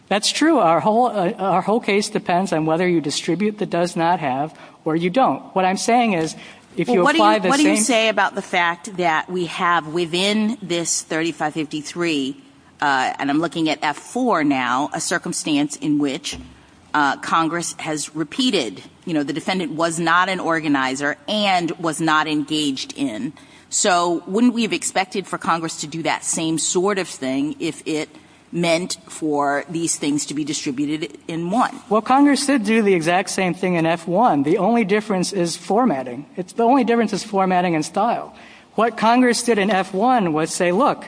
That's true. Our whole case depends on whether you distribute the does not have or you don't. What I'm saying is if you apply the same... What do you say about the fact that we have within this 3553, and I'm looking at F4 now, a circumstance in which Congress has repeated? You know, the defendant was not an organizer and was not engaged in. So wouldn't we have expected for Congress to do that same sort of thing if it meant for these things to be distributed in one? Well, Congress did do the exact same thing in F1. The only difference is formatting. The only difference is formatting and style. What Congress did in F1 was say, look,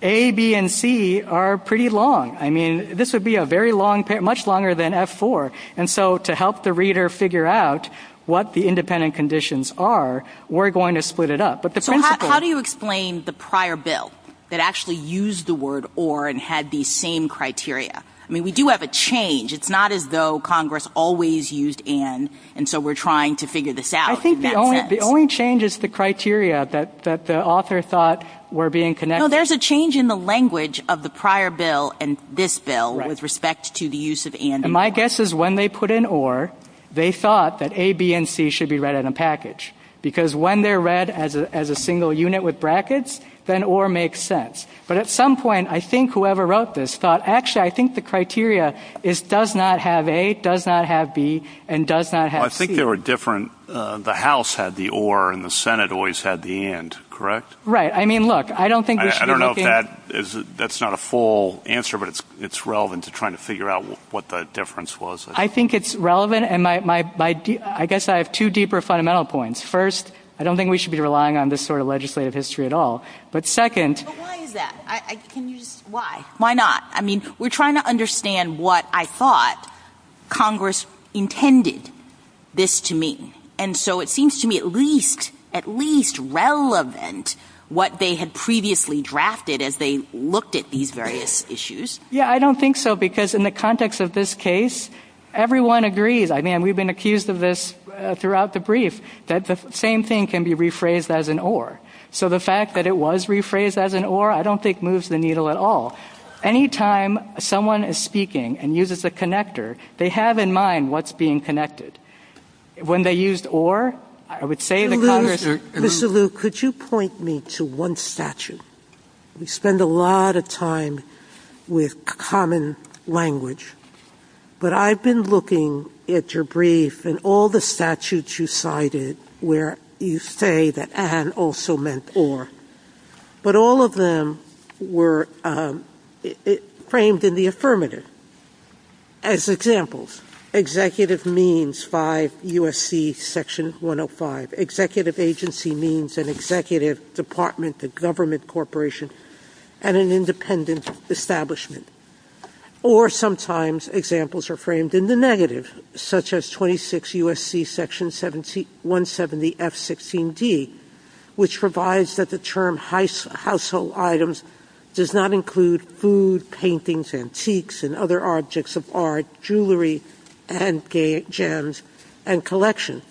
A, B, and C are pretty long. I mean, this would be much longer than F4. And so to help the reader figure out what the independent conditions are, we're going to split it up. How do you explain the prior bill that actually used the word or and had these same criteria? I mean, we do have a change. It's not as though Congress always used and, and so we're trying to figure this out. I think the only change is the criteria that the author thought were being connected. No, there's a change in the language of the prior bill and this bill with respect to the use of and. And my guess is when they put in or, they thought that A, B, and C should be read in a package because when they're read as a single unit with brackets, then or makes sense. But at some point, I think whoever wrote this thought, actually I think the criteria is does not have A, does not have B, and does not have C. Well, I think they were different. The House had the or and the Senate always had the and, correct? Right. I mean, look, I don't think there should be anything. I don't know if that is, that's not a full answer, but it's relevant to trying to figure out what the difference was. I think it's relevant. And my, I guess I have two deeper fundamental points. First, I don't think we should be relying on this sort of legislative history at all. But second. But why is that? Can you, why? Why not? I mean, we're trying to understand what I thought Congress intended this to mean. And so it seems to me at least, at least relevant what they had previously drafted as they looked at these various issues. Yeah, I don't think so because in the context of this case, everyone agrees. I mean, we've been accused of this throughout the brief, that the same thing can be rephrased as an or. So the fact that it was rephrased as an or, I don't think moves the needle at all. Any time someone is speaking and uses a connector, they have in mind what's being connected. When they used or, I would say to Congress. Mr. Luke, could you point me to one statute? We spend a lot of time with common language. But I've been looking at your brief and all the statutes you cited where you say that an also meant or. But all of them were framed in the affirmative. As examples, executive means by USC Section 105. Executive agency means an executive department, a government corporation, and an independent establishment. Or sometimes examples are framed in the negative, such as 26 USC Section 170F16D, which provides that the term household items does not include food, paintings, antiques, and other objects of art, jewelry, and gems, and collection.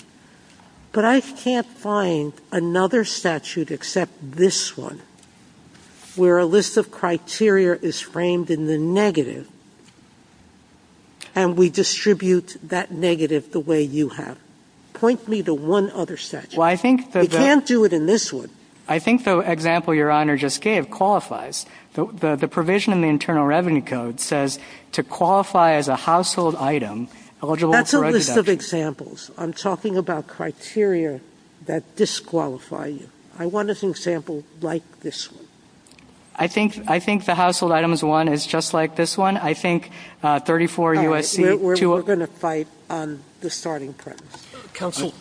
But I can't find another statute except this one, where a list of criteria is framed in the negative, and we distribute that negative the way you have. Point me to one other statute. You can't do it in this one. I think the example your Honor just gave qualifies. The provision in the Internal Revenue Code says to qualify as a household item eligible for a deduction. That's a list of examples. I'm talking about criteria that disqualify you. I want an example like this one. I think the household items one is just like this one. I think 34 USC. We're going to fight on the starting point. Counsel?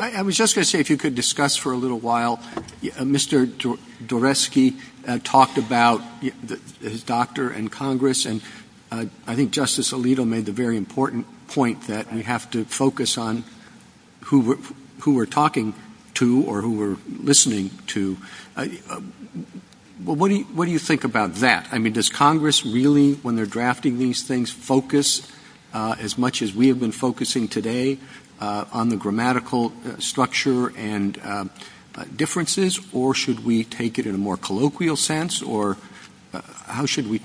I was just going to say if you could discuss for a little while. Mr. Doresky talked about his doctor and Congress, and I think Justice Alito made the very important point that we have to focus on who we're talking to or who we're listening to. What do you think about that? I mean, does Congress really, when they're drafting these things, focus as much as we have been focusing today on the grammatical structure and differences, or should we take it in a more colloquial sense, or how should we?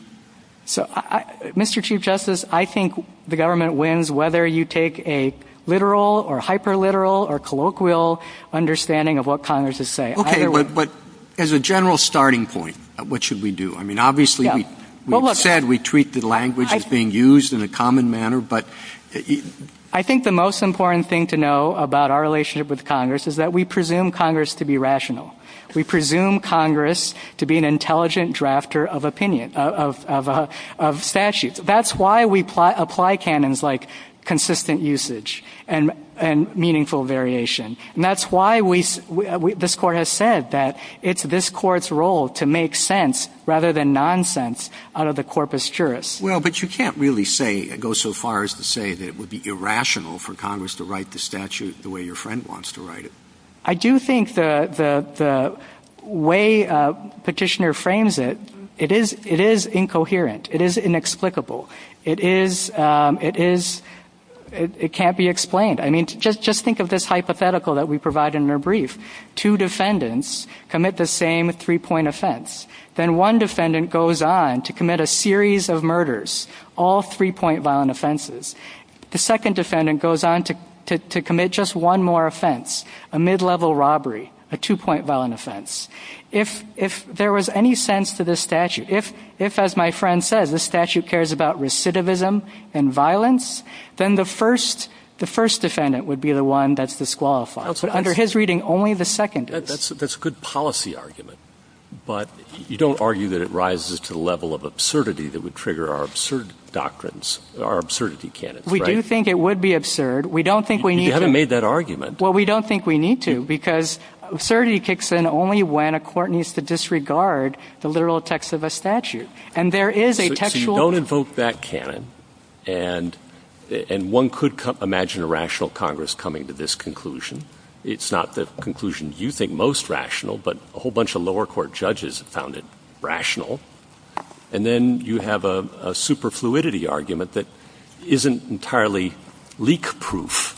Mr. Chief Justice, I think the government wins whether you take a literal or hyper-literal or colloquial understanding of what Congress is saying. Okay, but as a general starting point, what should we do? I mean, obviously we said we treat the language as being used in a common manner, but... I think the most important thing to know about our relationship with Congress is that we presume Congress to be rational. We presume Congress to be an intelligent drafter of opinion, of statute. That's why we apply canons like consistent usage and meaningful variation. And that's why this Court has said that it's this Court's role to make sense rather than nonsense out of the corpus juris. Well, but you can't really say, go so far as to say that it would be irrational for Congress to write the statute the way your friend wants to write it. I do think the way Petitioner frames it, it is incoherent. It is inexplicable. It can't be explained. I mean, just think of this hypothetical that we provide in your brief. Two defendants commit the same three-point offense. Then one defendant goes on to commit a series of murders, all three-point violent offenses. The second defendant goes on to commit just one more offense, a mid-level robbery, a two-point violent offense. If there was any sense to this statute, if, as my friend said, this statute cares about recidivism and violence, then the first defendant would be the one that's disqualified. But under his reading, only the second is. That's a good policy argument, but you don't argue that it rises to the level of absurdity that would trigger our absurd doctrines, our absurdity canon. We do think it would be absurd. You haven't made that argument. Well, we don't think we need to, because absurdity kicks in only when a court needs to disregard the literal text of a statute. So you don't invoke that canon, and one could imagine a rational Congress coming to this conclusion. It's not the conclusion you think most rational, but a whole bunch of lower court judges have found it rational. And then you have a superfluidity argument that isn't entirely leak-proof,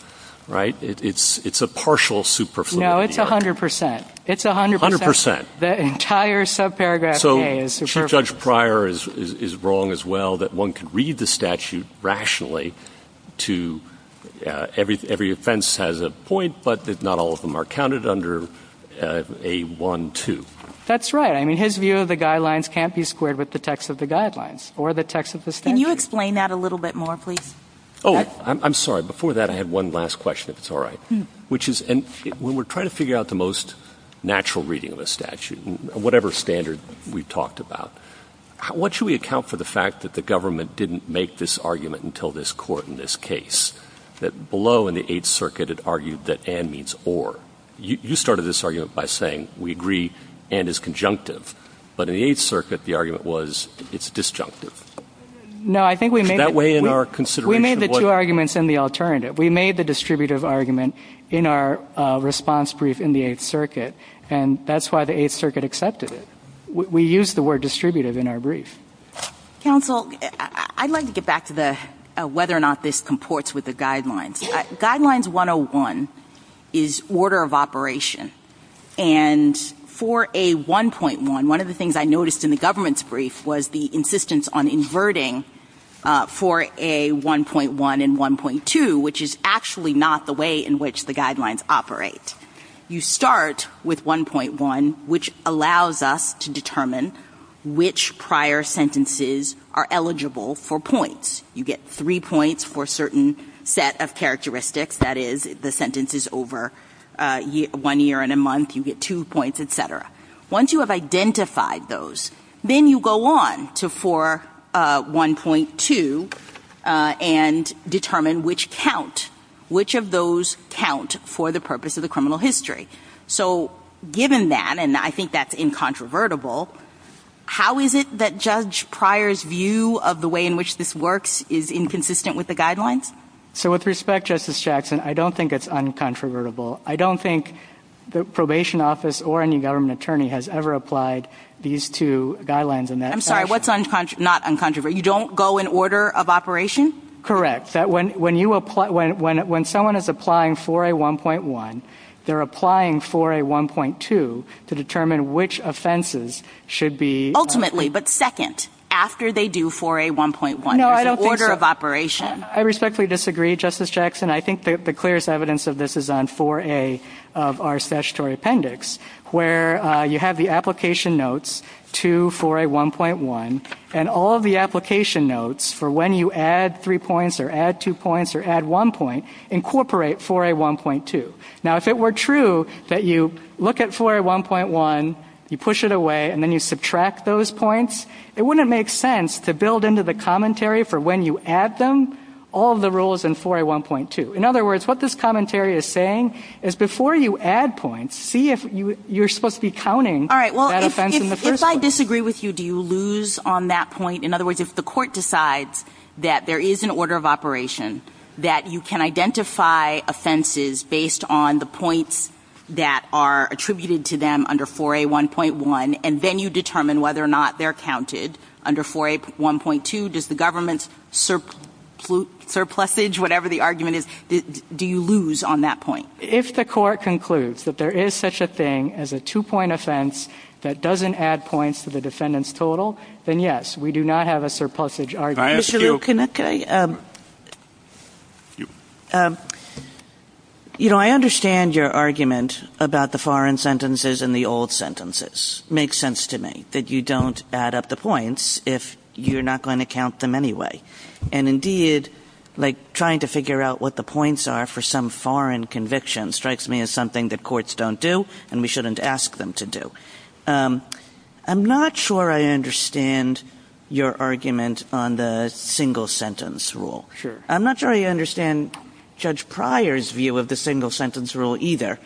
right? It's a partial superfluidity. No, it's 100%. It's 100%. 100%. The entire subparagraph A is superfluid. So Judge Pryor is wrong as well, that one could read the statute rationally to every offense has a point, but that not all of them are counted under A-1-2. That's right. I mean, his view of the guidelines can't be squared with the text of the guidelines or the text of the statute. Can you explain that a little bit more, please? Oh, I'm sorry. Before that, I had one last question, if it's all right, which is when we're trying to figure out the most natural reading of the statute, whatever standard we've talked about, what should we account for the fact that the government didn't make this argument until this court in this case, that below in the Eighth Circuit it argued that and means or? You started this argument by saying we agree and is conjunctive, but in the Eighth Circuit the argument was it's disjunctive. No, I think we made it. Is that way in our consideration? We made the two arguments in the alternative. We made the distributive argument in our response brief in the Eighth Circuit, and that's why the Eighth Circuit accepted it. We used the word distributive in our brief. Counsel, I'd like to get back to whether or not this comports with the guidelines. Guidelines 101 is order of operation, and for a 1.1, one of the things I noticed in the government's brief was the insistence on inverting for a 1.1 and 1.2, which is actually not the way in which the guidelines operate. You start with 1.1, which allows us to determine which prior sentences are eligible for points. You get three points for a certain set of characteristics. That is, the sentence is over one year and a month. You get two points, et cetera. Once you have identified those, then you go on to for 1.2 and determine which count, which of those count for the purpose of the criminal history. Given that, and I think that's incontrovertible, how is it that Judge Pryor's view of the way in which this works is inconsistent with the guidelines? With respect, Justice Jackson, I don't think it's incontrovertible. I don't think the probation office or any government attorney has ever applied these two guidelines in that fashion. I'm sorry, what's not incontrovertible? You don't go in order of operation? Correct. When someone is applying 4A1.1, they're applying 4A1.2 to determine which offenses should be- Ultimately, but second, after they do 4A1.1, in order of operation. I respectfully disagree, Justice Jackson. I think the clearest evidence of this is on 4A of our statutory appendix, where you have the application notes to 4A1.1, and all of the application notes for when you add three points or add two points or add one point, incorporate 4A1.2. Now, if it were true that you look at 4A1.1, you push it away, and then you subtract those points, it wouldn't make sense to build into the commentary for when you add them all of the rules in 4A1.2. In other words, what this commentary is saying is before you add points, see if you're supposed to be counting that offense in the first place. Do you lose on that point? In other words, if the court decides that there is an order of operation, that you can identify offenses based on the points that are attributed to them under 4A1.1, and then you determine whether or not they're counted under 4A1.2, does the government's surplusage, whatever the argument is, do you lose on that point? If the court concludes that there is such a thing as a two-point offense that doesn't add points to the defendant's total, then yes, we do not have a surplusage argument. I understand your argument about the foreign sentences and the old sentences. It makes sense to me that you don't add up the points if you're not going to count them anyway. Indeed, trying to figure out what the points are for some foreign conviction strikes me as something that courts don't do and we shouldn't ask them to do. I'm not sure I understand your argument on the single-sentence rule. I'm not sure I understand Judge Pryor's view of the single-sentence rule either.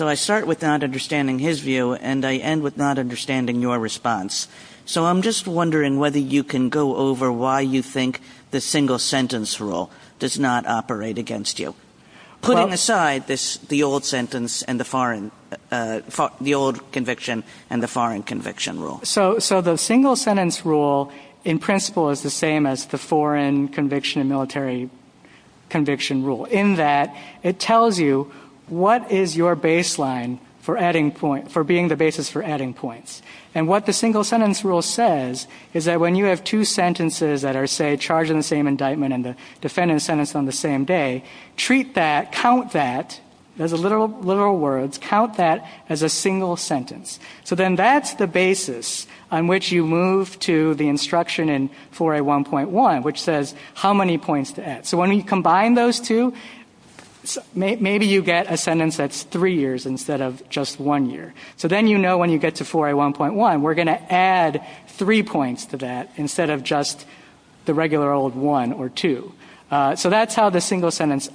I start with not understanding his view and I end with not understanding your response. I'm just wondering whether you can go over why you think the single-sentence rule does not operate against you, putting aside the old conviction and the foreign conviction rule. The single-sentence rule, in principle, is the same as the foreign conviction and military conviction rule in that it tells you what is your baseline for being the basis for adding points. What the single-sentence rule says is that when you have two sentences that are, say, charged in the same indictment and the defendant is sentenced on the same day, treat that, count that, as literal words, count that as a single sentence. Then that's the basis on which you move to the instruction in 4A1.1, which says how many points to add. When you combine those two, maybe you get a sentence that's three years instead of just one year. So then you know when you get to 4A1.1, we're going to add three points to that instead of just the regular old one or two. So that's how the single-sentence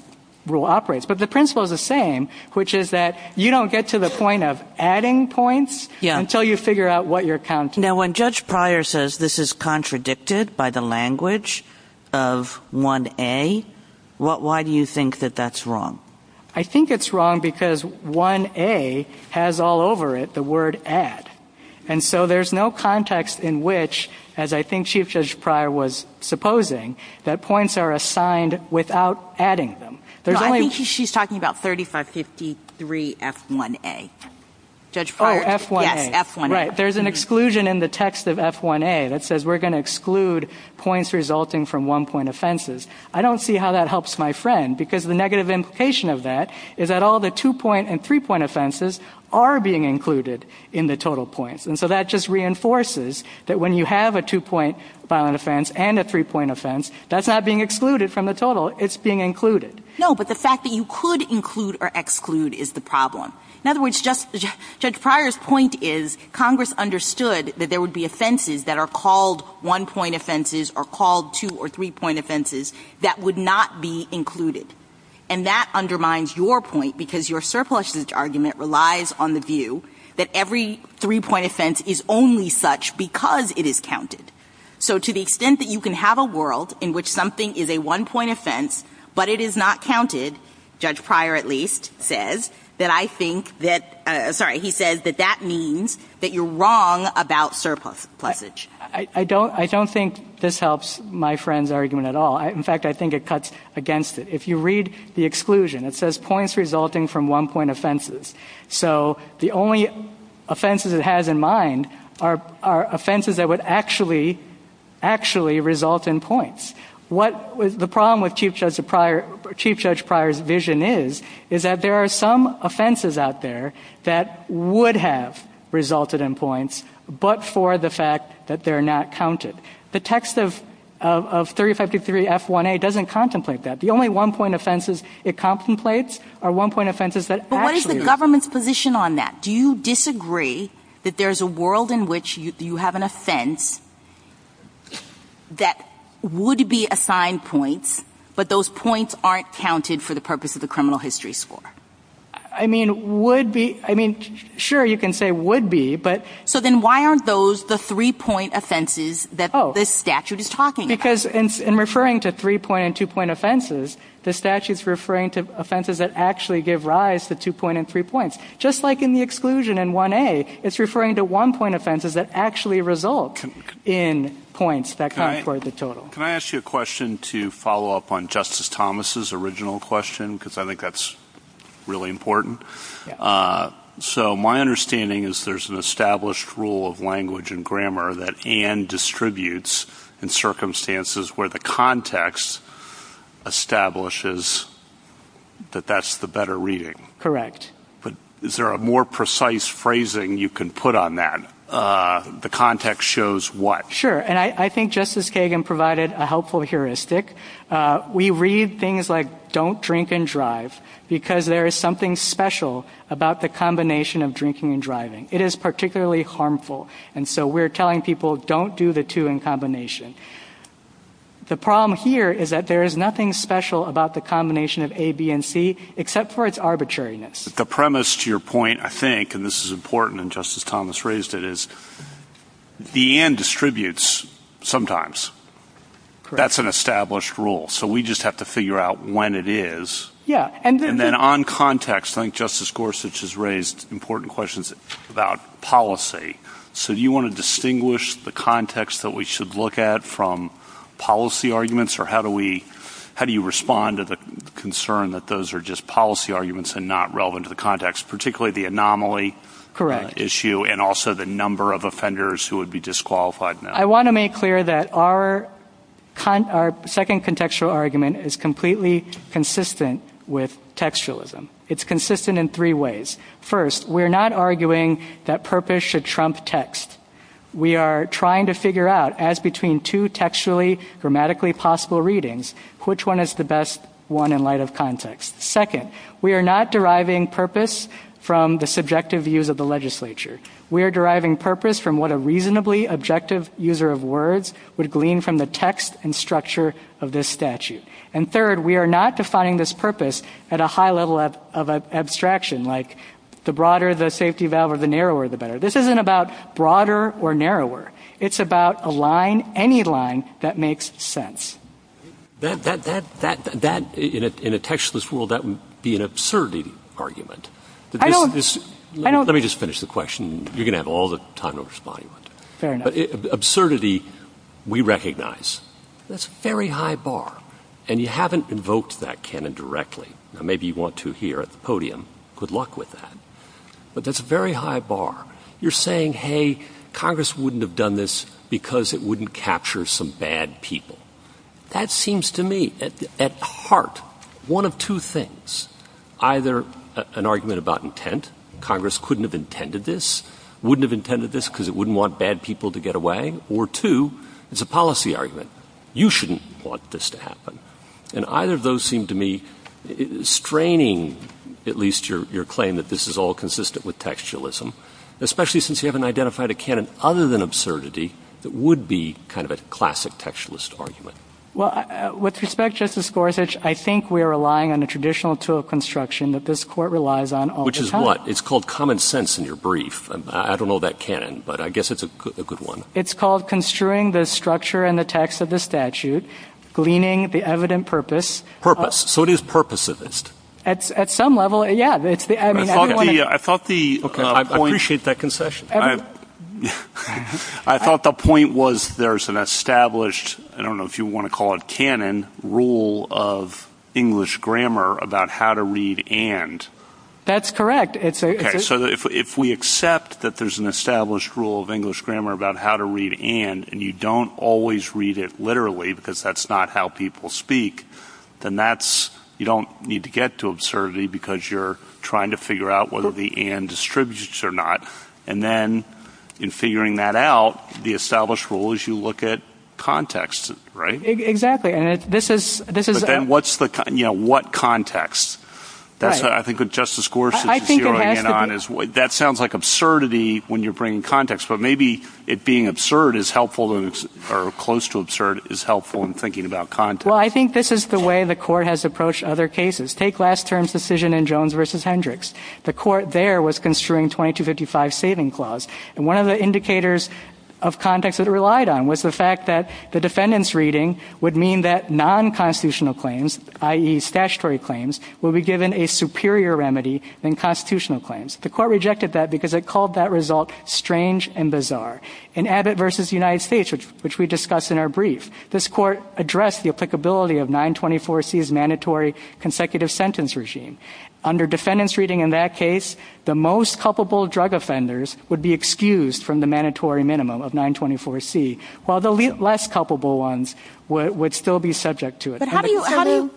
rule operates. But the principle is the same, which is that you don't get to the point of adding points until you figure out what your count is. Now, when Judge Pryor says this is contradicted by the language of 1A, why do you think that that's wrong? I think it's wrong because 1A has all over it the word add. And so there's no context in which, as I think Chief Judge Pryor was supposing, that points are assigned without adding them. No, I think she's talking about 3553F1A. Oh, F1A. Yes, F1A. Right. There's an exclusion in the text of F1A that says we're going to exclude points resulting from one-point offenses. I don't see how that helps my friend because the negative implication of that is that all the two-point and three-point offenses are being included in the total points. And so that just reinforces that when you have a two-point violent offense and a three-point offense, that's not being excluded from the total. It's being included. No, but the fact that you could include or exclude is the problem. In other words, Judge Pryor's point is Congress understood that there would be offenses that are called one-point offenses or called two- or three-point offenses that would not be included. And that undermines your point because your surplus argument relies on the view that every three-point offense is only such because it is counted. So to the extent that you can have a world in which something is a one-point offense but it is not counted, Judge Pryor at least says, that I think that, sorry, he says that that means that you're wrong about surplus. I don't think this helps my friend's argument at all. In fact, I think it cuts against it. If you read the exclusion, it says points resulting from one-point offenses. So the only offenses it has in mind are offenses that would actually result in points. The problem with Chief Judge Pryor's vision is that there are some offenses out there that would have resulted in points but for the fact that they're not counted. The text of 3553 F1A doesn't contemplate that. The only one-point offenses it contemplates are one-point offenses that actually- But what is the government's position on that? Do you disagree that there's a world in which you have an offense that would be assigned points but those points aren't counted for the purpose of the criminal history score? I mean, would be. I mean, sure, you can say would be, but- So then why aren't those the three-point offenses that this statute is talking about? Because in referring to three-point and two-point offenses, the statute's referring to offenses that actually give rise to two-point and three-points. Just like in the exclusion in 1A, it's referring to one-point offenses that actually result in points that count for the total. Can I ask you a question to follow up on Justice Thomas' original question? Because I think that's really important. So my understanding is there's an established rule of language and grammar that and distributes in circumstances where the context establishes that that's the better reading. Correct. But is there a more precise phrasing you can put on that? The context shows what? Sure, and I think Justice Kagan provided a helpful heuristic. We read things like don't drink and drive because there is something special about the combination of drinking and driving. It is particularly harmful, and so we're telling people don't do the two in combination. The problem here is that there is nothing special about the combination of A, B, and C except for its arbitrariness. The premise to your point, I think, and this is important and Justice Thomas raised it, is the and distributes sometimes. That's an established rule, so we just have to figure out when it is. And then on context, I think Justice Gorsuch has raised important questions about policy. So do you want to distinguish the context that we should look at from policy arguments, or how do you respond to the concern that those are just policy arguments and not relevant to the context, particularly the anomaly issue and also the number of offenders who would be disqualified now? I want to make clear that our second contextual argument is completely consistent with textualism. It's consistent in three ways. First, we're not arguing that purpose should trump text. We are trying to figure out, as between two textually grammatically possible readings, which one is the best one in light of context. Second, we are not deriving purpose from the subjective views of the legislature. We are deriving purpose from what a reasonably objective user of words would glean from the text and structure of this statute. And third, we are not defining this purpose at a high level of abstraction, like the broader the safety valve or the narrower the better. This isn't about broader or narrower. It's about a line, any line, that makes sense. That, in a textualist world, that would be an absurdly argument. I know. Let me just finish the question. You're going to have all the time to respond. Absurdity, we recognize. That's a very high bar. And you haven't invoked that canon directly. Maybe you want to here at the podium. Good luck with that. But that's a very high bar. You're saying, hey, Congress wouldn't have done this because it wouldn't capture some bad people. That seems to me, at heart, one of two things. Either an argument about intent. Congress couldn't have intended this. Wouldn't have intended this because it wouldn't want bad people to get away. Or two, it's a policy argument. You shouldn't want this to happen. And either of those seem to me straining at least your claim that this is all consistent with textualism, especially since you haven't identified a canon other than absurdity that would be kind of a classic textualist argument. Well, with respect, Justice Gorsuch, I think we're relying on a traditional tool of construction that this court relies on all the time. Which is what? It's called common sense in your brief. I don't know about canon, but I guess it's a good one. It's called construing the structure and the text of the statute, gleaning the evident purpose. Purpose. So it is purposivist. At some level, yeah. I thought the point was there's an established, I don't know if you want to call it canon, rule of English grammar about how to read and. That's correct. So if we accept that there's an established rule of English grammar about how to read and, and you don't always read it literally because that's not how people speak, then you don't need to get to absurdity because you're trying to figure out whether the and distributes or not. And then in figuring that out, the established rule is you look at context, right? Exactly. What context? I think what Justice Gorsuch is zeroing in on is that sounds like absurdity when you're bringing context, but maybe it being absurd is helpful or close to absurd is helpful in thinking about context. Well, I think this is the way the court has approached other cases. Take last term's decision in Jones v. Hendricks. The court there was construing 2255 saving clause. And one of the indicators of context that it relied on was the fact that the defendant's reading would mean that non-constitutional claims, i.e. statutory claims, will be given a superior remedy than constitutional claims. The court rejected that because it called that result strange and bizarre. In Abbott v. United States, which we discussed in our brief, this court addressed the applicability of 924C's mandatory consecutive sentence regime. Under defendant's reading in that case, the most culpable drug offenders would be excused from the mandatory minimum of 924C, while the less culpable ones would still be subject to it.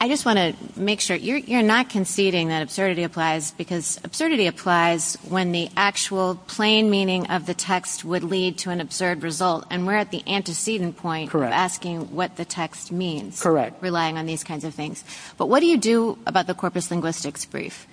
I just want to make sure you're not conceding that absurdity applies because absurdity applies when the actual plain meaning of the text would lead to an absurd result, and we're at the antecedent point of asking what the text means, relying on these kinds of things. But what do you do about the corpus linguistics brief?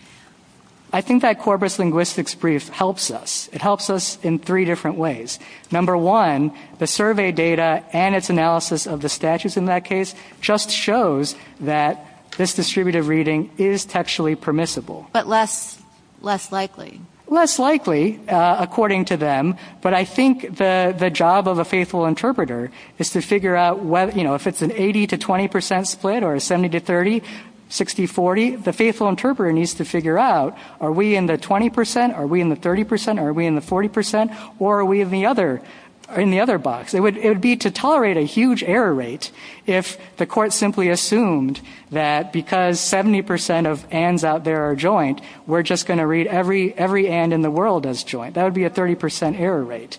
I think that corpus linguistics brief helps us. It helps us in three different ways. Number one, the survey data and its analysis of the statutes in that case just shows that this distributive reading is textually permissible. But less likely. Less likely, according to them. But I think the job of a faithful interpreter is to figure out, you know, if it's an 80 to 20 percent split or a 70 to 30, 60, 40, the faithful interpreter needs to figure out are we in the 20 percent, are we in the 30 percent, are we in the 40 percent, or are we in the other box? It would be to tolerate a huge error rate if the court simply assumed that because 70 percent of ands out there are joint, we're just going to read every and in the world as joint. That would be a 30 percent error rate.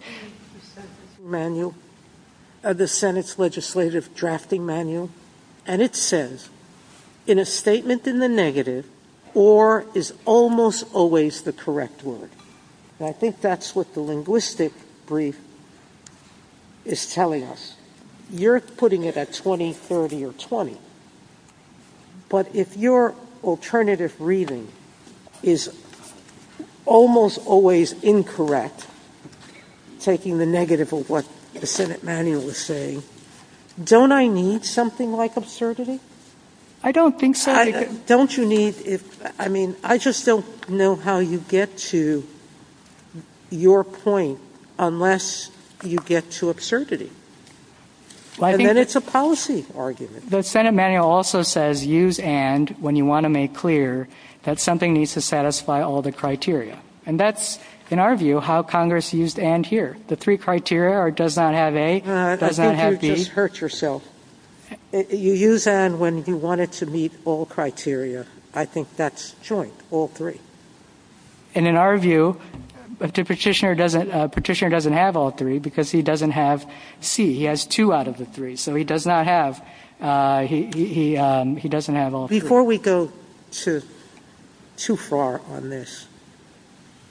This is the drafting manual of the Senate's legislative drafting manual. And it says, in a statement in the negative, or is almost always the correct word. And I think that's what the linguistic brief is telling us. You're putting it at 20, 30, or 20. But if your alternative reading is almost always incorrect, taking the negative of what the Senate manual is saying, don't I need something like absurdity? I don't think so. Don't you need it? I mean, I just don't know how you get to your point unless you get to absurdity. Then it's a policy argument. The Senate manual also says use and when you want to make clear that something needs to satisfy all the criteria. And that's, in our view, how Congress used and here. The three criteria are does not have a, does not have b. I think you just hurt yourself. You use and when you want it to meet all criteria. I think that's joint, all three. And in our view, the petitioner doesn't have all three because he doesn't have c. He has two out of the three. So he does not have, he doesn't have all three. Before we go too far on this,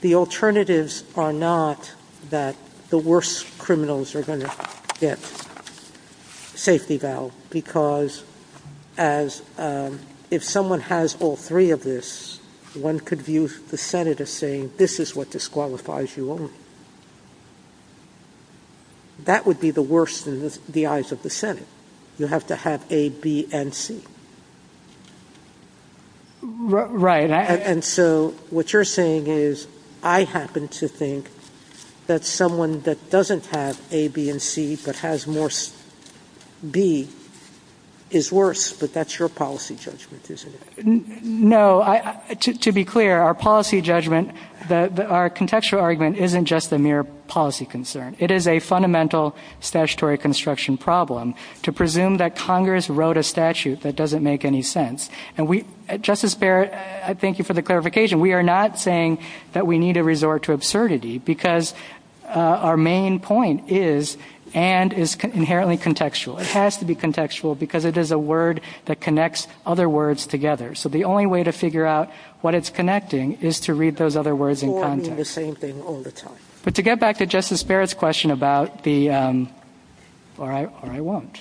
the alternatives are not that the worst criminals are going to get safety valve. Because if someone has all three of this, one could view the Senate as saying this is what disqualifies you. That would be the worst in the eyes of the Senate. You have to have a, b, and c. Right. And so what you're saying is I happen to think that someone that doesn't have a, b, and c, but has more b is worse, but that's your policy judgment, isn't it? No, to be clear, our policy judgment, our contextual argument isn't just the mere policy concern. It is a fundamental statutory construction problem to presume that Congress wrote a statute that doesn't make any sense. And we, Justice Barrett, I thank you for the clarification. We are not saying that we need to resort to absurdity because our main point is and is inherently contextual. It has to be contextual because it is a word that connects other words together. So the only way to figure out what it's connecting is to read those other words in context. But to get back to Justice Barrett's question about the, or I won't.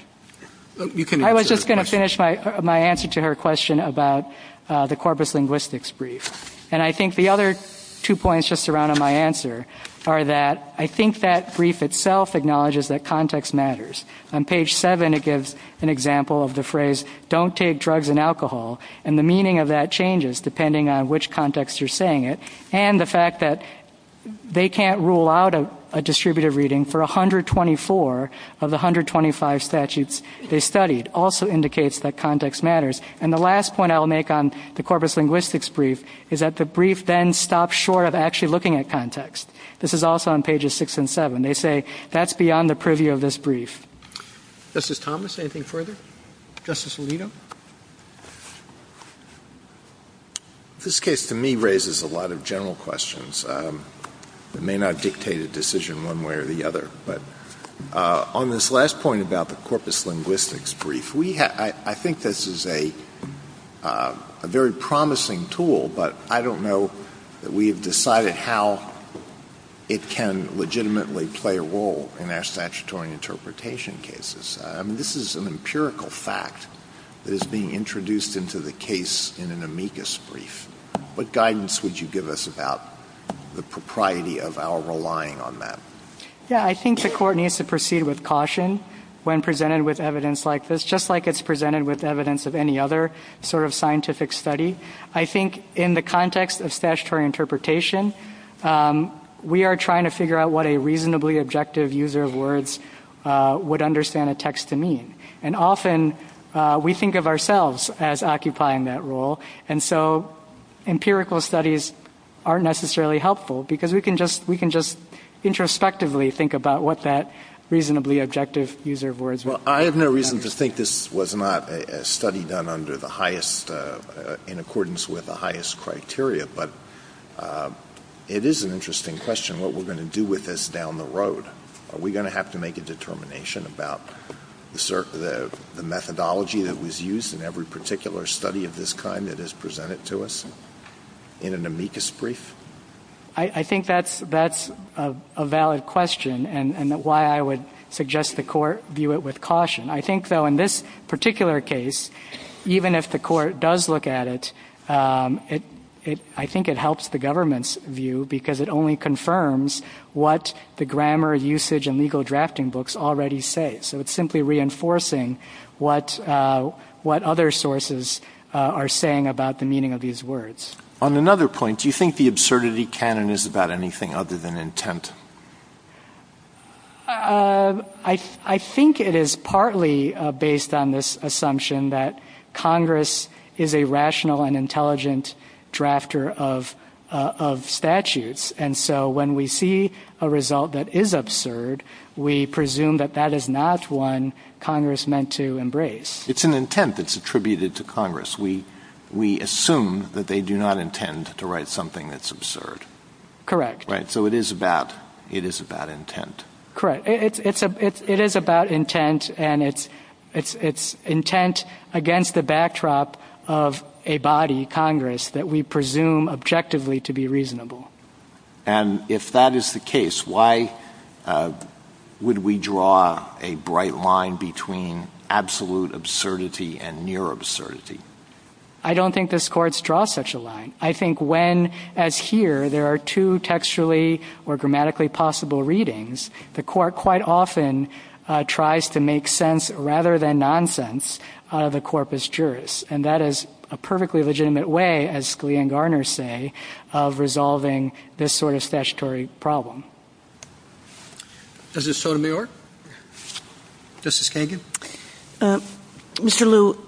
I was just going to finish my answer to her question about the corpus linguistics brief. And I think the other two points just to round up my answer are that I think that brief itself acknowledges that context matters. On page 7 it gives an example of the phrase, don't take drugs and alcohol, and the meaning of that changes depending on which context you're saying it. And the fact that they can't rule out a distributive reading for 124 of the 125 statutes they studied also indicates that context matters. And the last point I'll make on the corpus linguistics brief is that the brief then stops short of actually looking at context. This is also on pages 6 and 7. They say that's beyond the preview of this brief. Justice Thomas, anything further? Justice Alito? This case to me raises a lot of general questions that may not dictate a decision one way or the other. But on this last point about the corpus linguistics brief, I think this is a very promising tool, but I don't know that we have decided how it can legitimately play a role in our statutory interpretation cases. I mean, this is an empirical fact that is being introduced into the case in an amicus brief. What guidance would you give us about the propriety of our relying on that? Yeah, I think the court needs to proceed with caution when presented with evidence like this, just like it's presented with evidence of any other sort of scientific study. I think in the context of statutory interpretation, we are trying to figure out what a reasonably objective user of words would understand a text to mean. And often we think of ourselves as occupying that role, and so empirical studies aren't necessarily helpful because we can just introspectively think about what that reasonably objective user of words would mean. Well, I have no reason to think this was not a study done in accordance with the highest criteria, but it is an interesting question what we're going to do with this down the road. Are we going to have to make a determination about the methodology that was used in every particular study of this kind that is presented to us in an amicus brief? I think that's a valid question and why I would suggest the court view it with caution. I think, though, in this particular case, even if the court does look at it, I think it helps the government's view because it only confirms what the grammar, usage, and legal drafting books already say. So it's simply reinforcing what other sources are saying about the meaning of these words. On another point, do you think the absurdity canon is about anything other than intent? I think it is partly based on this assumption that Congress is a rational and intelligent drafter of statutes, and so when we see a result that is absurd, we presume that that is not one Congress meant to embrace. It's an intent that's attributed to Congress. We assume that they do not intend to write something that's absurd. Correct. So it is about intent. Correct. It is about intent, and it's intent against the backdrop of a body, Congress, that we presume objectively to be reasonable. And if that is the case, why would we draw a bright line between absolute absurdity and mere absurdity? I don't think this court draws such a line. I think when, as here, there are two textually or grammatically possible readings, the court quite often tries to make sense rather than nonsense of the corpus juris, and that is a perfectly legitimate way, as Scalia and Garner say, of resolving this sort of statutory problem. Is this so to be or? Justice Kagan? Mr. Liu,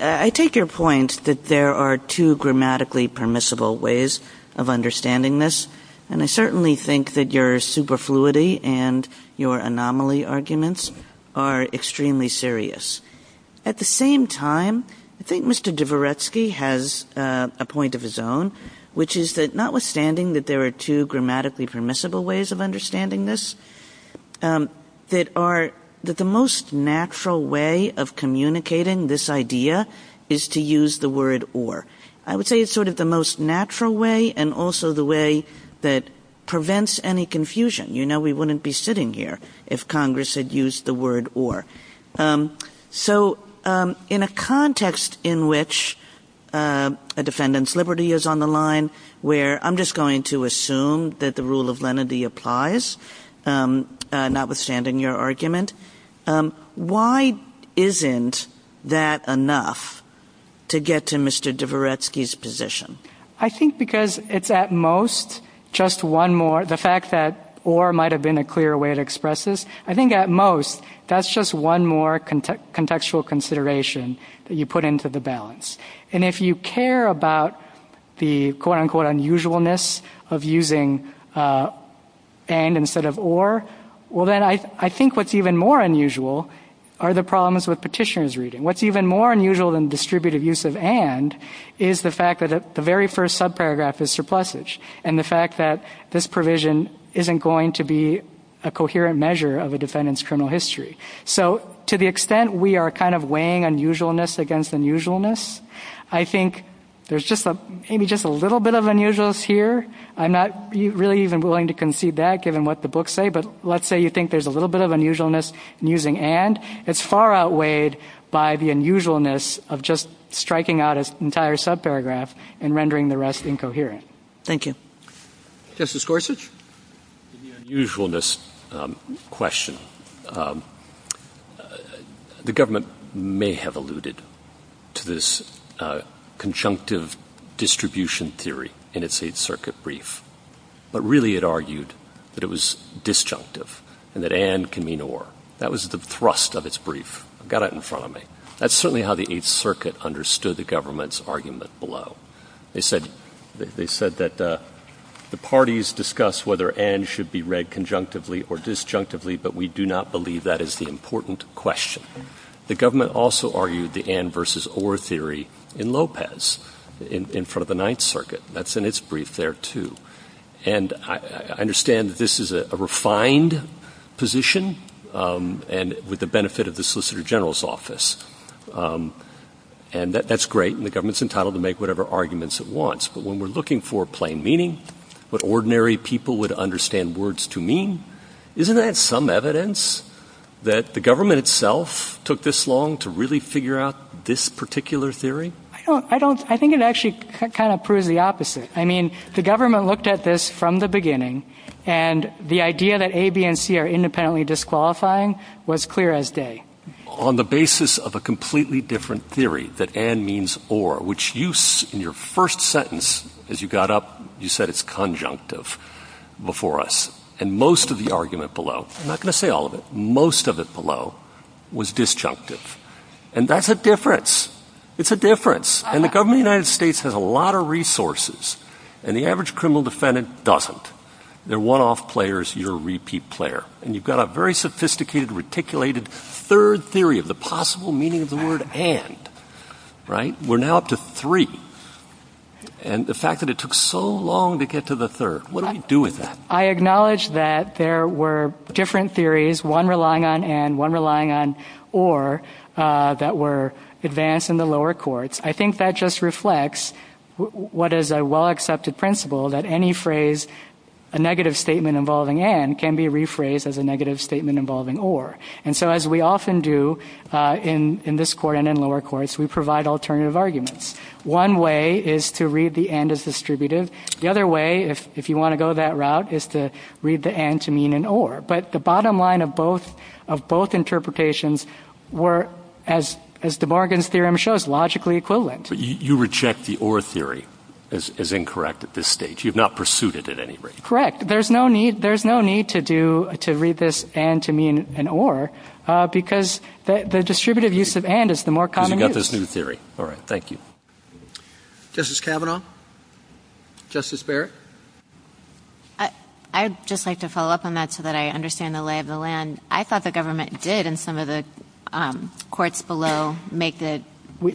I take your point that there are two grammatically permissible ways of understanding this, and I certainly think that your superfluity and your anomaly arguments are extremely serious. At the same time, I think Mr. Dvoretsky has a point of his own, which is that notwithstanding that there are two grammatically permissible ways of understanding this, that the most natural way of communicating this idea is to use the word or. I would say it's sort of the most natural way and also the way that prevents any confusion. You know we wouldn't be sitting here if Congress had used the word or. So in a context in which a defendant's liberty is on the line, where I'm just going to assume that the rule of lenity applies, notwithstanding your argument, why isn't that enough to get to Mr. Dvoretsky's position? I think because it's at most just one more. The fact that or might have been a clearer way to express this, I think at most that's just one more contextual consideration that you put into the balance. And if you care about the quote-unquote unusualness of using and instead of or, well then I think what's even more unusual are the problems with petitioner's reading. What's even more unusual than distributive use of and is the fact that the very first subparagraph is surplusage and the fact that this provision isn't going to be a coherent measure of a defendant's criminal history. So to the extent we are kind of weighing unusualness against unusualness, I think there's maybe just a little bit of unusualness here. I'm not really even willing to concede that given what the books say, but let's say you think there's a little bit of unusualness in using and. It's far outweighed by the unusualness of just striking out an entire subparagraph and rendering the rest incoherent. Thank you. Justice Gorsuch. Usualness question. The government may have alluded to this conjunctive distribution theory in its Eighth Circuit brief, but really it argued that it was disjunctive and that and can mean or. That was the thrust of its brief. Got it in front of me. That's certainly how the Eighth Circuit understood the government's argument below. They said that the parties discuss whether and should be read conjunctively or disjunctively, but we do not believe that is the important question. The government also argued the and versus or theory in Lopez in front of the Ninth Circuit. That's in its brief there too. And I understand that this is a refined position and with the benefit of the solicitor general's office. And that's great. And the government's entitled to make whatever arguments it wants. But when we're looking for plain meaning, what ordinary people would understand words to mean, isn't that some evidence that the government itself took this long to really figure out this particular theory? I think it actually kind of proves the opposite. I mean, the government looked at this from the beginning, and the idea that A, B, and C are independently disqualifying was clear as day. On the basis of a completely different theory that and means or, which you, in your first sentence, as you got up, you said it's conjunctive before us. And most of the argument below, I'm not going to say all of it, most of it below was disjunctive. And that's a difference. It's a difference. And the government of the United States has a lot of resources. And the average criminal defendant doesn't. They're one-off players. You're a repeat player. And you've got a very sophisticated, reticulated third theory of the possible meaning of the word and. Right? We're now up to three. And the fact that it took so long to get to the third, what do we do with that? I acknowledge that there were different theories, one relying on and, one relying on or, that were advanced in the lower courts. I think that just reflects what is a well-accepted principle that any phrase, a negative statement involving and, can be rephrased as a negative statement involving or. And so, as we often do in this court and in lower courts, we provide alternative arguments. One way is to read the and as distributive. The other way, if you want to go that route, is to read the and to mean an or. But the bottom line of both interpretations were, as the Bargains Theorem shows, logically equivalent. You reject the or theory as incorrect at this stage. You've not pursued it at any rate. Correct. There's no need to read this and to mean an or, because the distributive use of and is the more common use. We've got this new theory. All right. Thank you. Justice Kavanaugh? Justice Barrett? I'd just like to follow up on that so that I understand the lay of the land. I thought the government did, in some of the courts below, make the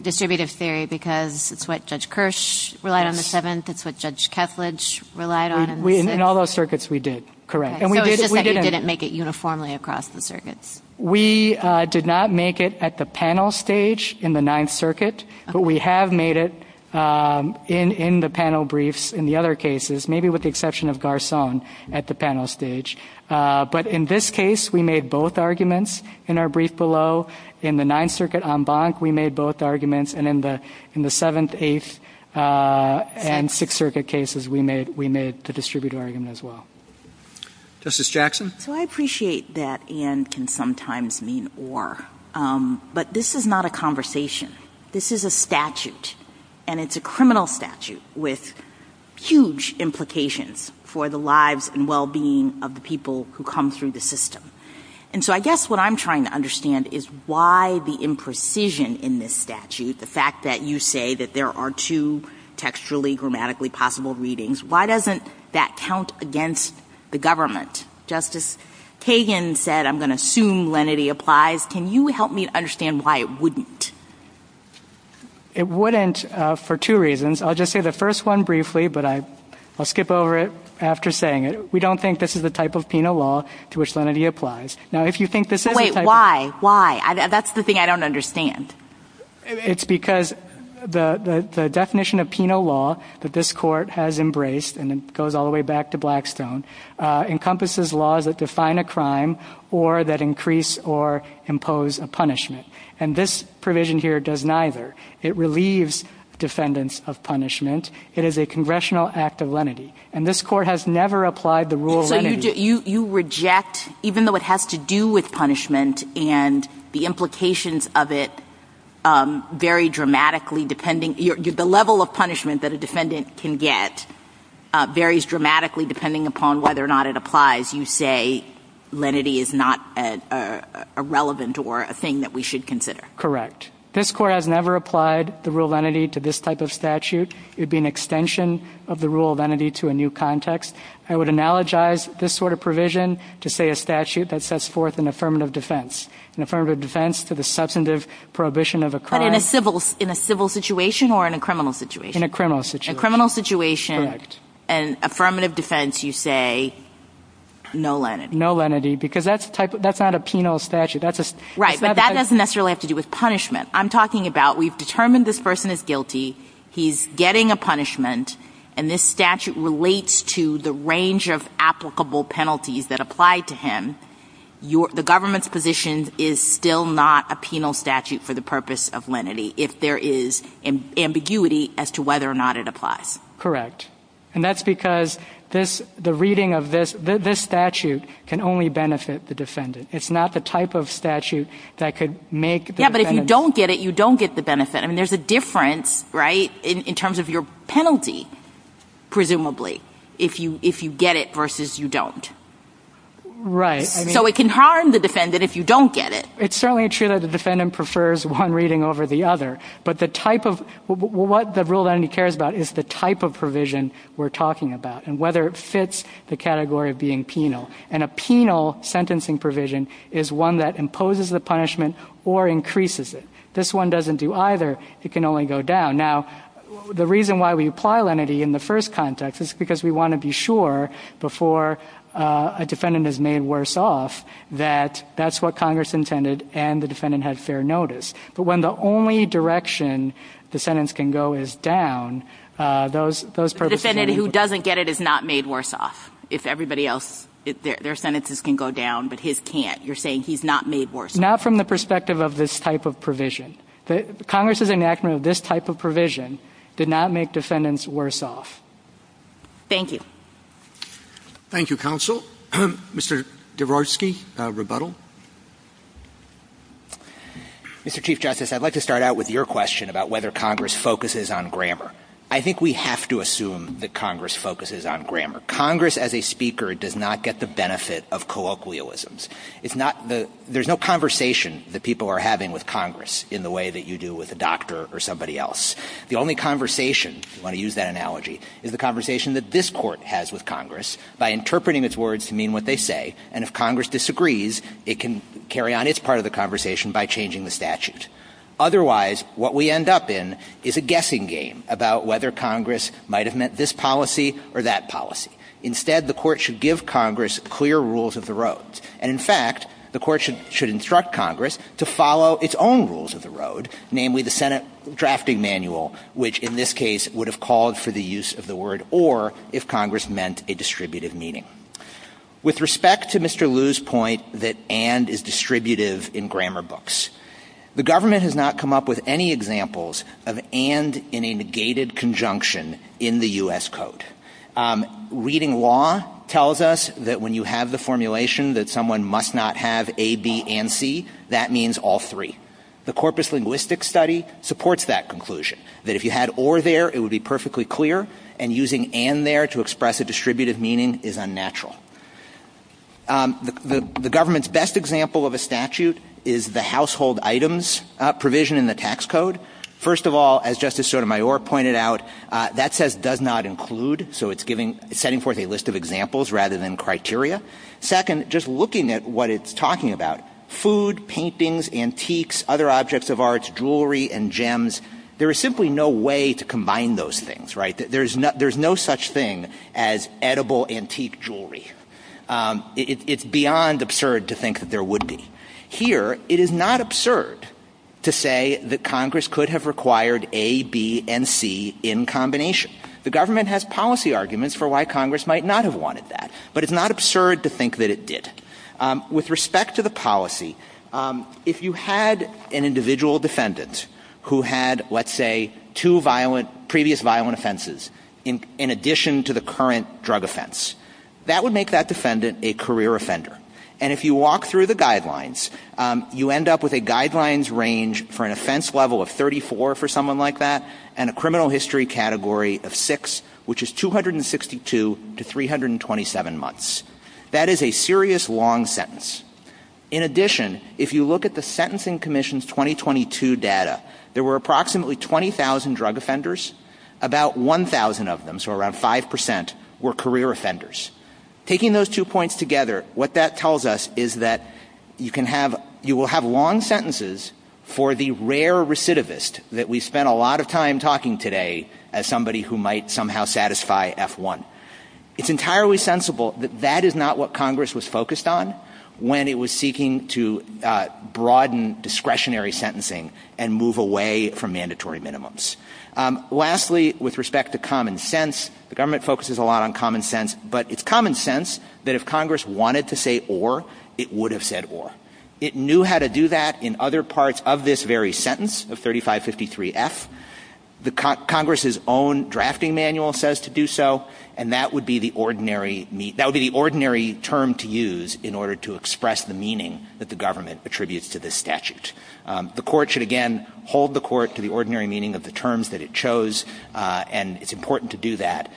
distributive theory, because it's what Judge Kirsch relied on in the Seventh. It's what Judge Kesslidge relied on. In all those circuits, we did. Correct. It's just that you didn't make it uniformly across the circuits. We did not make it at the panel stage in the Ninth Circuit. But we have made it in the panel briefs in the other cases, maybe with the exception of Garcon at the panel stage. But in this case, we made both arguments in our brief below. In the Ninth Circuit en banc, we made both arguments. And in the Seventh, Eighth, and Sixth Circuit cases, we made the distributive argument as well. Justice Jackson? So I appreciate that and can sometimes mean or. But this is not a conversation. This is a statute, and it's a criminal statute with huge implications for the lives and well-being of the people who come through the system. And so I guess what I'm trying to understand is why the imprecision in this statute, the fact that you say that there are two textually grammatically possible readings, why doesn't that count against the government? Justice Kagan said, I'm going to assume lenity applies. Can you help me understand why it wouldn't? It wouldn't for two reasons. I'll just say the first one briefly, but I'll skip over it after saying it. We don't think this is the type of penal law to which lenity applies. Now, if you think this is. Wait, why? Why? That's the thing I don't understand. It's because the definition of penal law that this court has embraced, and it goes all the way back to Blackstone, encompasses laws that define a crime or that increase or impose a punishment. And this provision here does neither. It relieves defendants of punishment. It is a congressional act of lenity. And this court has never applied the rule of lenity. So you reject, even though it has to do with punishment and the implications of it vary dramatically depending the level of punishment that a defendant can get varies dramatically depending upon whether or not it applies. You say lenity is not a relevant or a thing that we should consider. Correct. This court has never applied the rule of lenity to this type of statute. It would be an extension of the rule of lenity to a new context. I would analogize this sort of provision to, say, a statute that sets forth an affirmative defense. An affirmative defense to the substantive prohibition of a crime. But in a civil situation or in a criminal situation? In a criminal situation. In a criminal situation, an affirmative defense, you say no lenity. No lenity, because that's not a penal statute. Right, but that doesn't necessarily have to do with punishment. I'm talking about we've determined this person is guilty. He's getting a punishment, and this statute relates to the range of applicable penalties that apply to him. The government's position is still not a penal statute for the purpose of lenity, if there is ambiguity as to whether or not it applies. Correct. And that's because the reading of this statute can only benefit the defendant. It's not the type of statute that could make the defendant... Yeah, but if you don't get it, you don't get the benefit. I mean, there's a difference, right, in terms of your penalty, presumably, if you get it versus you don't. Right. So it can harm the defendant if you don't get it. It's certainly true that the defendant prefers one reading over the other. But the type of...what the rule of lenity cares about is the type of provision we're talking about and whether it fits the category of being penal. And a penal sentencing provision is one that imposes the punishment or increases it. This one doesn't do either. It can only go down. Now, the reason why we apply lenity in the first context is because we want to be sure before a defendant is made worse off that that's what Congress intended and the defendant had fair notice. But when the only direction the sentence can go is down, those purposes... The defendant who doesn't get it is not made worse off. If everybody else, their sentences can go down, but his can't. You're saying he's not made worse off. Not from the perspective of this type of provision. Congress's enactment of this type of provision did not make defendants worse off. Thank you. Thank you, Counsel. Mr. Dabrowski, rebuttal. Mr. Chief Justice, I'd like to start out with your question about whether Congress focuses on grammar. I think we have to assume that Congress focuses on grammar. Congress, as a speaker, does not get the benefit of colloquialisms. There's no conversation that people are having with Congress in the way that you do with a doctor or somebody else. The only conversation, if you want to use that analogy, is the conversation that this Court has with Congress by interpreting its words to mean what they say. And if Congress disagrees, it can carry on its part of the conversation by changing the statute. Otherwise, what we end up in is a guessing game about whether Congress might have meant this policy or that policy. Instead, the Court should give Congress clear rules of the road. And, in fact, the Court should instruct Congress to follow its own rules of the road, namely the Senate drafting manual, which, in this case, would have called for the use of the word or if Congress meant a distributive meeting. With respect to Mr. Liu's point that and is distributive in grammar books, the government has not come up with any examples of and in a negated conjunction in the U.S. Code. Reading law tells us that when you have the formulation that someone must not have A, B, and C, that means all three. The Corpus Linguistics study supports that conclusion, that if you had or there, it would be perfectly clear, and using and there to express a distributive meaning is unnatural. The government's best example of a statute is the household items provision in the tax code. First of all, as Justice Sotomayor pointed out, that says does not include, so it's setting forth a list of examples rather than criteria. Second, just looking at what it's talking about, food, paintings, antiques, other objects of arts, jewelry, and gems, there is simply no way to combine those things, right? There's no such thing as edible antique jewelry. It's beyond absurd to think that there would be. Here, it is not absurd to say that Congress could have required A, B, and C in combination. The government has policy arguments for why Congress might not have wanted that, but it's not absurd to think that it did. With respect to the policy, if you had an individual defendant who had, let's say, two previous violent offenses in addition to the current drug offense, that would make that defendant a career offender. And if you walk through the guidelines, you end up with a guidelines range for an offense level of 34 for someone like that and a criminal history category of 6, which is 262 to 327 months. That is a serious long sentence. In addition, if you look at the Sentencing Commission's 2022 data, there were approximately 20,000 drug offenders. About 1,000 of them, so around 5%, were career offenders. Taking those two points together, what that tells us is that you will have long sentences for the rare recidivist that we spent a lot of time talking today as somebody who might somehow satisfy F1. It's entirely sensible that that is not what Congress was focused on when it was seeking to broaden discretionary sentencing and move away from mandatory minimums. Lastly, with respect to common sense, the government focuses a lot on common sense, but it's common sense that if Congress wanted to say or, it would have said or. It knew how to do that in other parts of this very sentence of 3553F. Congress's own drafting manual says to do so, and that would be the ordinary term to use in order to express the meaning that the government attributes to this statute. The court should, again, hold the court to the ordinary meaning of the terms that it chose, and it's important to do that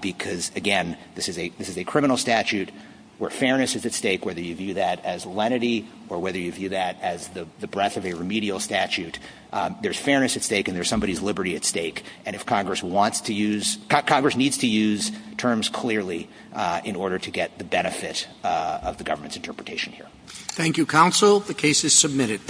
because, again, this is a criminal statute where fairness is at stake, whether you view that as lenity or whether you view that as the breadth of a remedial statute. There's fairness at stake and there's somebody's liberty at stake, and if Congress wants to use, Congress needs to use terms clearly in order to get the benefit of the government's interpretation here. Thank you, counsel. The case is submitted.